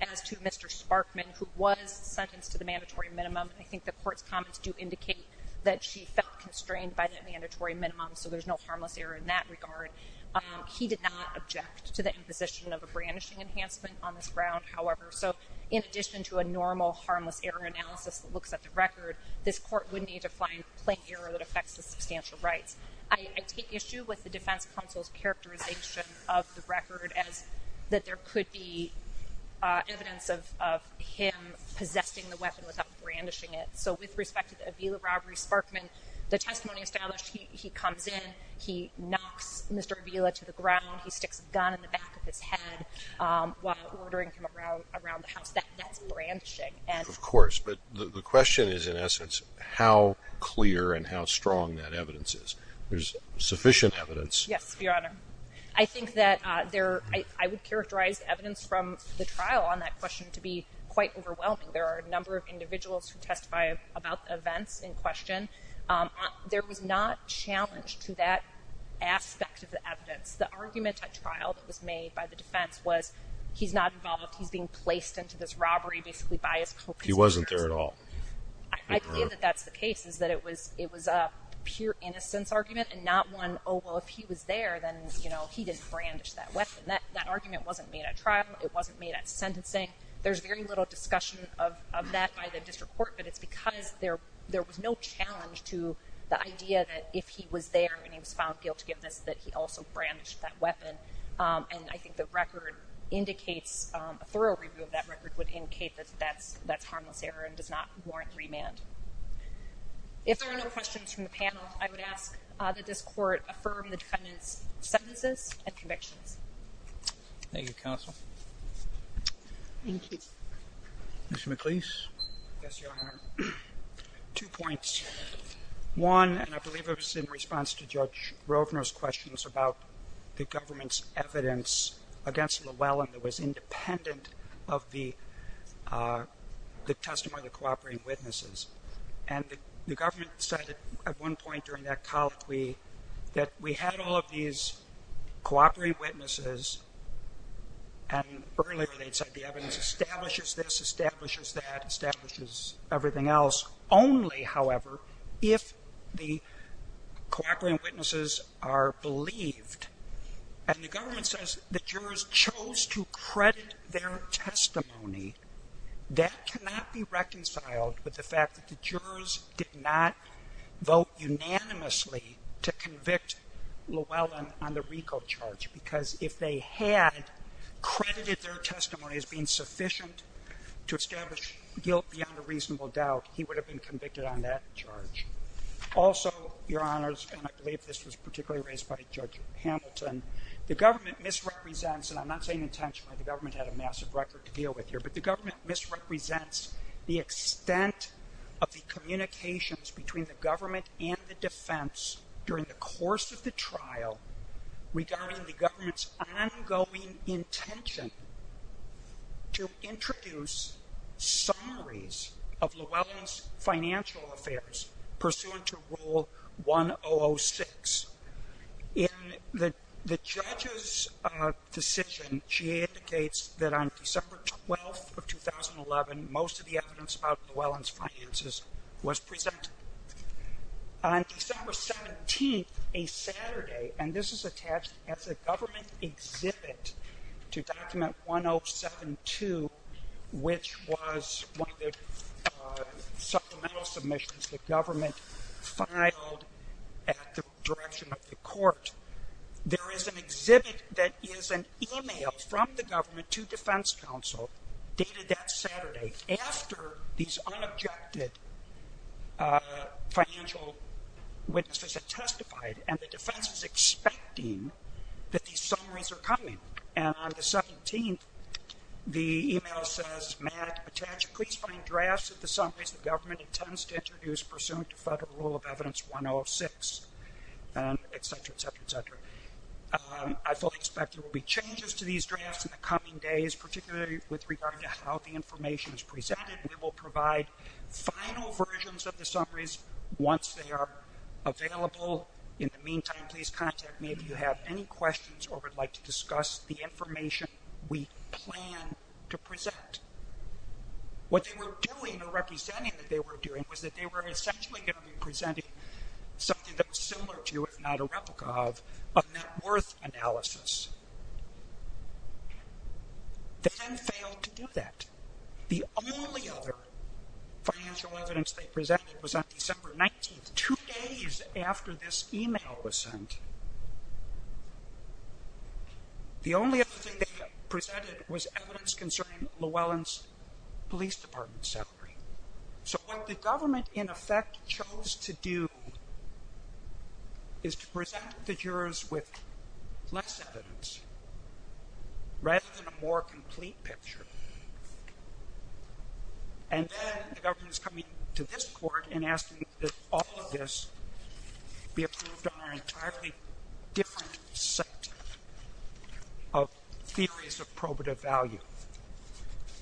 as to Mr. Sparkman, who was sentenced to the mandatory minimum. I think the court comments do indicate that she felt constrained by the mandatory minimum. So there's no harmless error in that regard. He did not object to the imposition of a brandishing enhancement on the ground, however. So in addition to a normal harmless error analysis that looks at the record, this court would need to find a claim error that affects his substantial rights. I take issue with the defense counsel's characterization of the record as that there could be evidence of him possessing the weapon without brandishing it. So with respect to the Avila robbery, Sparkman, the testimony establishes he comes in. He knocked Mr. Avila to the ground. He gets gun in the back of his head while ordering him around around the house. That's not brandishing. And of course, but the question is, in essence, how clear and how strong that evidence is. There's sufficient evidence. Yes, Your Honor. I think that there I would characterize evidence from the trial on that question to be quite overwhelming. There are a number of individuals who testify about the events in question. There is not challenge to that aspect of the evidence. The argument at trial that was made by the defense was, he's not involved. He's being placed into this robbery basically by his court. He wasn't there at all. I think that that's the case, is that it was a pure innocence argument and not one, oh, well, if he was there, then, you know, he didn't brandish that weapon. That argument wasn't made at trial. It wasn't made at sentencing. There's very little discussion of that by the district court. But it's because there was no challenge to the idea that if he was there and he was found guilty of this, that he also brandished that weapon. And I think the record indicates a thorough review of that record would indicate that that's harmless there and does not warrant remand. If there are no questions from the panel, I would ask that this court affirm the defendant's sentences and conviction. Thank you, counsel. Mr. McLeese. Yes, Your Honor. Two points. One, and I believe it was in response to Judge Roebner's questions about the government's evidence against Llewellyn that was independent of the testimony of the cooperating witnesses. And the government said at one point during that colleague we, that we had all of these cooperating witnesses. And earlier they said the evidence establishes this, only, however, if the cooperating witnesses are believed. And the government says the jurors chose to credit their testimony. That cannot be reconciled with the fact that the jurors did not vote unanimously to convict Llewellyn on the RICO charge. Because if they had credited their testimony as being sufficient to establish guilt beyond a reasonable doubt, he would have been convicted on that charge. Also, Your Honors, and I believe this was particularly raised by Judge Hamilton, the government misrepresents, and I'm not saying intentionally, the government had a massive record to deal with here, but the government misrepresents the extent of the communications between the government and the defense during the course of the trial regarding the government's ongoing intention to introduce summaries of Llewellyn's financial affairs pursuant to Rule 1006. In the judge's decision, she indicates that on December 12th of 2011, most of the evidence about Llewellyn's finances was presented. On December 17th, a Saturday, and this is attached as a government exhibit to Document 1072, which was one of the supplemental submissions the government filed at the direction of the court. There is an exhibit that is an email from the government to defense counsel dated that Saturday after these unobjected financial witnesses have testified, and the defense is expecting that these summaries are coming. And on the 17th, the email says, Matt, attach a please-finding draft to the summaries the government intends to introduce pursuant to Federal Rule of Evidence 106, and et cetera, et cetera, et cetera. I fully expect there will be changes to these drafts in the coming days, particularly with regard to how the information is presented. They will provide final versions of the summaries once they are available. In the meantime, please contact me if you have any questions or would like to discuss the information we plan to present. What they were doing, the representing that they were doing, was that they were essentially going to be presenting something that was similar to, if not a replica of, a net worth analysis. The defense failed to do that. The only other financial evidence they presented was on December 19th, two days after this email was sent. The only other thing they presented was evidence concerning Llewellyn's police department salary. So what the government, in effect, chose to do is to present the jurors with less evidence rather than a more complete picture. And then the government's coming to this court and asking that all of this be approved on an entirely different set of theories of probative value.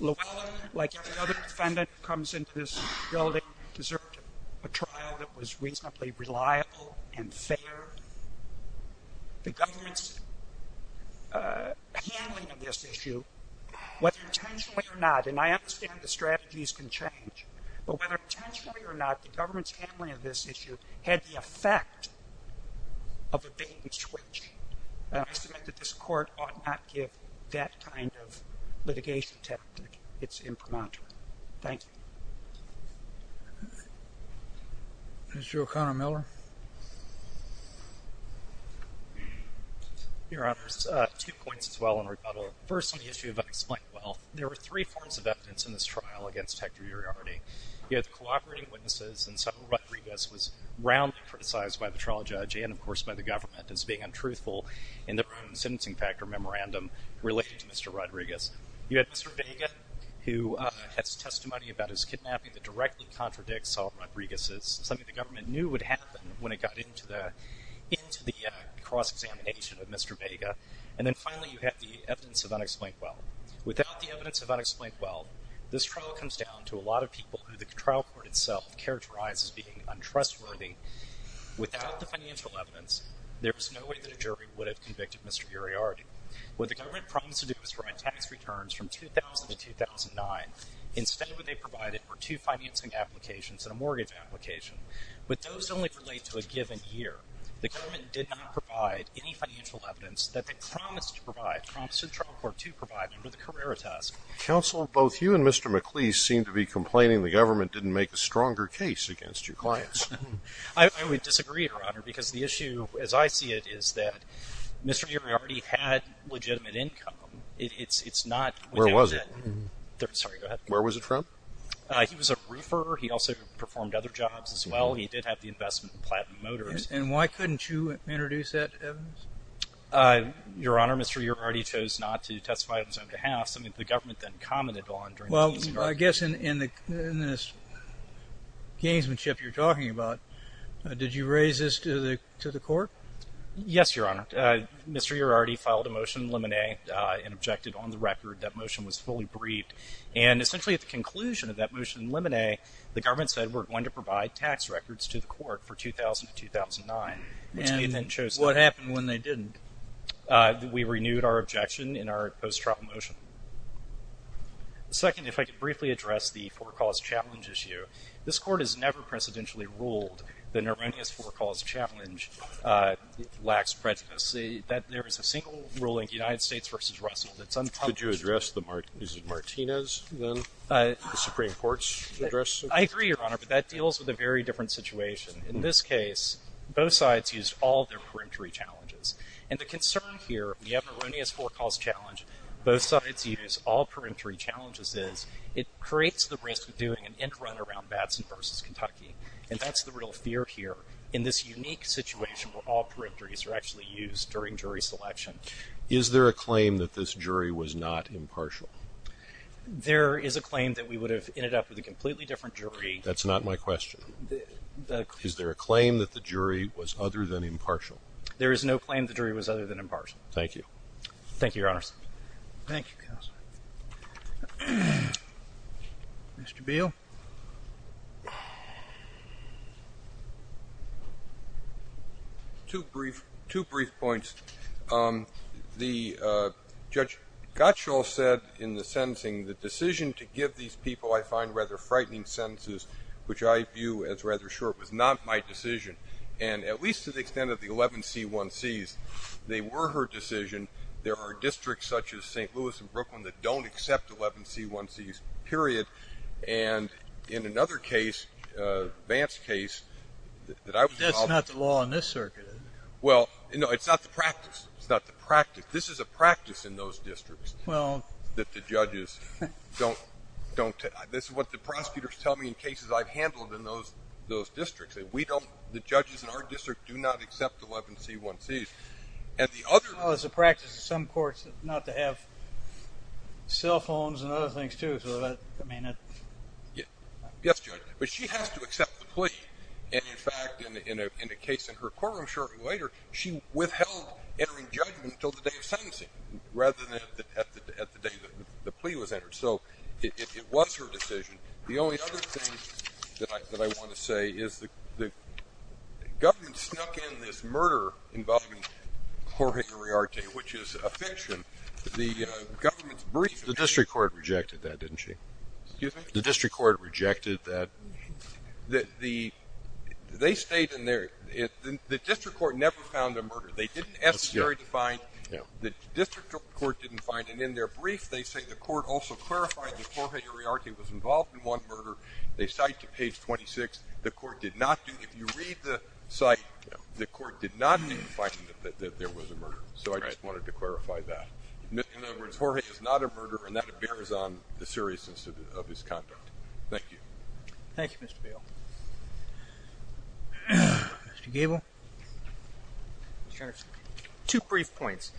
Llewellyn, like every other defendant who comes into this building, deserved a trial that was reasonably reliable and fair. The government's handling of this issue, whether intentionally or not, and I understand the strategies can change, but whether intentionally or not, the government's handling of this issue had the effect of a big switch. And I submit that this court ought not give that kind of litigation test its impromptu. Thank you. Mr. O'Connor-Miller. Your Honor, two points to Llewellyn. First, on the issue of unexplained wealth, there were three forms of evidence in this trial against Hector Uriarte. He had cooperating witnesses and several Rodriguez was roundly criticized by the trial judge and, of course, by the government as being untruthful in their own sentencing factor memorandum related to Mr. Rodriguez. You had Mr. Vega, who has testimony about his kidnapping that directly contradicts Solomon Rodriguez's, something the government knew would happen when it got into the cross-examination of Mr. Vega. And then finally, you have the evidence of unexplained wealth. Without the evidence of unexplained wealth, this trial comes down to a lot of people who the trial court itself characterizes as being untrustworthy. Without the financial evidence, there's no way that a jury would have convicted Mr. Uriarte. What the government promised to do was provide tax returns from 2000 to 2009. Instead, what they provided were two financing applications and a mortgage application. But those only relate to a given year. The government did not provide any financial evidence that they promised to provide, promised the trial court to provide for the Carrera test. Counsel, both you and Mr. McLeese seem to be complaining the government didn't make a stronger case against your clients. I would disagree, Your Honor, because the issue, as I see it, is that Mr. Uriarte had legitimate income. It's not... Where was it? Sorry, go ahead. Where was it from? He was a roofer. He also performed other jobs as well. He did have the investment in Platinum Motors. And why couldn't you introduce that evidence? Your Honor, Mr. Uriarte chose not to testify on his own behalf. I mean, the government then commented on... Well, I guess in this gamesmanship you're talking about, did you raise this to the court? Yes, Your Honor. Mr. Uriarte filed a motion in limine and objected on the record. That motion was fully briefed. And essentially at the conclusion of that motion in limine, the government said we're going to provide tax records to the court for 2000 to 2009. And what happened when they didn't? We renewed our objection in our post-trial motion. Second, if I could briefly address the four cause challenge issue. This court has never precedentially ruled that an erroneous four cause challenge lacks prejudice. That there is a single ruling, United States versus Russell, that's unpublished. Could you address the Martinez Supreme Court's address? I agree, Your Honor, but that deals with a very different situation. In this case, both sides use all their perimetry challenges. And the concern here, we have an erroneous four cause challenge, both sides use all perimetry challenges, is it creates the risk of doing an end run around Babson versus Kentucky. And that's the real fear here. In this unique situation where all perimetries are actually used during jury selection. Is there a claim that this jury was not impartial? There is a claim that we would have ended up with a completely different jury. That's not my question. Is there a claim that the jury was other than impartial? There is no claim the jury was other than impartial. Thank you. Thank you, Your Honor. Thank you, counsel. Mr. Beal. Two brief points. The Judge Gottschall said in the sentencing, the decision to give these people, I find rather frightening sentences, which I view as rather short, was not my decision. And at least to the extent of the 11 C1Cs, they were her decision. There are districts such as St. Louis and Brooklyn that don't accept 11 C1Cs, period. And in another case, Vance's case. That's not the law in this circuit. Well, no, it's not the practice. It's not the practice. This is a practice in those districts that the judges don't, this is what the prosecutors tell me in cases I've handled in those districts. And we don't, the judges in our district do not accept 11 C1Cs. And the other law is the practice of some courts not to have cell phones and other things too. Yes, but she has to accept the plea. And in fact, in a case in her courtroom shortly later, she withheld entering judgment until the day of sentencing, rather than at the day the plea was entered. So it was her decision. The only other thing that I want to say is that the government snuck in this murder involving Jorge Moriarty, which is a fiction. The government's brief, the district court rejected that, didn't she? Excuse me? The district court rejected that. That the, they stayed in there, the district court never found the murder. They didn't necessarily find, the district court didn't find. And in their brief, they say the court also clarified that Jorge Moriarty was involved in one murder. They cite to page 26, the court did not, if you read the site, the court did not find that there was a murder. So I just wanted to clarify that. In other words, Jorge is not a murderer, and that bears on the seriousness of his conduct. Thank you. Thank you, Mr. Bail. Mr. Gabel? Two brief points.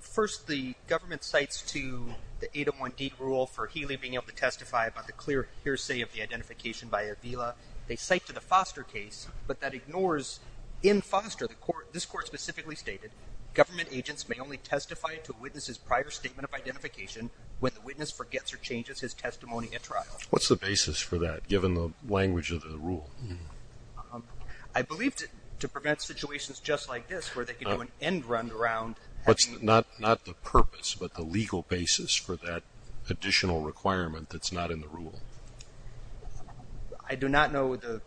First, the government cites to the 801D rule for Healy being able to testify about the clear hearsay of the identification by Avila. They cite to the Foster case, but that ignores, in Foster, this court specifically stated, government agents may only testify to a witness's prior statement of identification when the witness forgets or changes his testimony at trial. What's the basis for that, given the language of the rule? I believe to prevent situations just like this, where they can do an end round around. That's not the purpose, but the legal basis for that additional requirement that's not in the rule. I do not know the,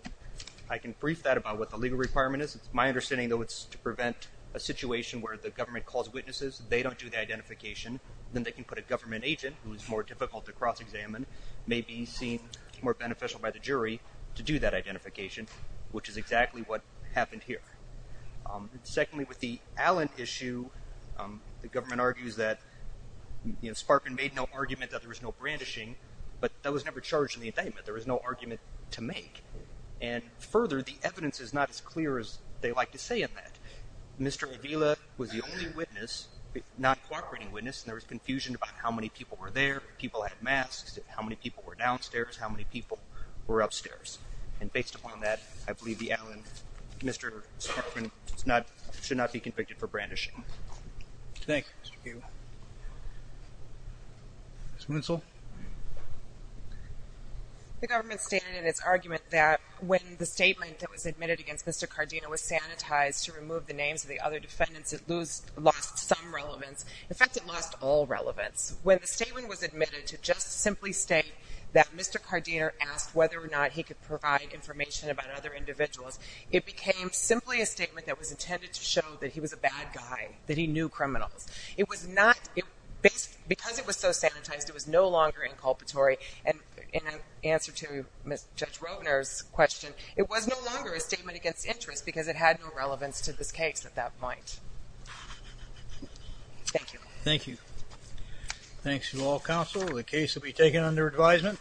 I can brief that about what the legal requirement is. My understanding, though, is to prevent a situation where the government calls witnesses, they don't do the identification, then they can put a government agent, who's more difficult to cross-examine, may be seen more beneficial by the jury to do that identification, which is exactly what happened here. Secondly, with the Allent issue, the government argues that, you know, Sparkin made no argument that there was no brandishing, but that was never charged in the indictment. There was no argument to make. And further, the evidence is not as clear as they like to say of that. Mr. Avila was the only witness, non-cooperating witness, and there was confusion about how many people were there, people had masks, how many people were downstairs, how many people were upstairs. And based upon that, I believe the Allent, Mr. Sparkin should not be convicted for brandishing. Thank you. Ms. Moonsall? The government stated in its argument that when the statement that was admitted against Mr. Cardino was sanitized to remove the names of the other defendants, it lost some relevance. In fact, it lost all relevance. When the statement was admitted to just simply state that Mr. Cardino asked whether or not he could provide information about other individuals, it became simply a statement that was intended to show that he was a bad guy, that he knew criminals. It was not, because it was so sanitized, it was no longer inculpatory. And in answer to Ms. Judge Roedner's question, it was no longer a statement against interest because it had no relevance to this case at that point. Thank you. Thank you. Thanks to you all, counsel. The case will be taken under advisement.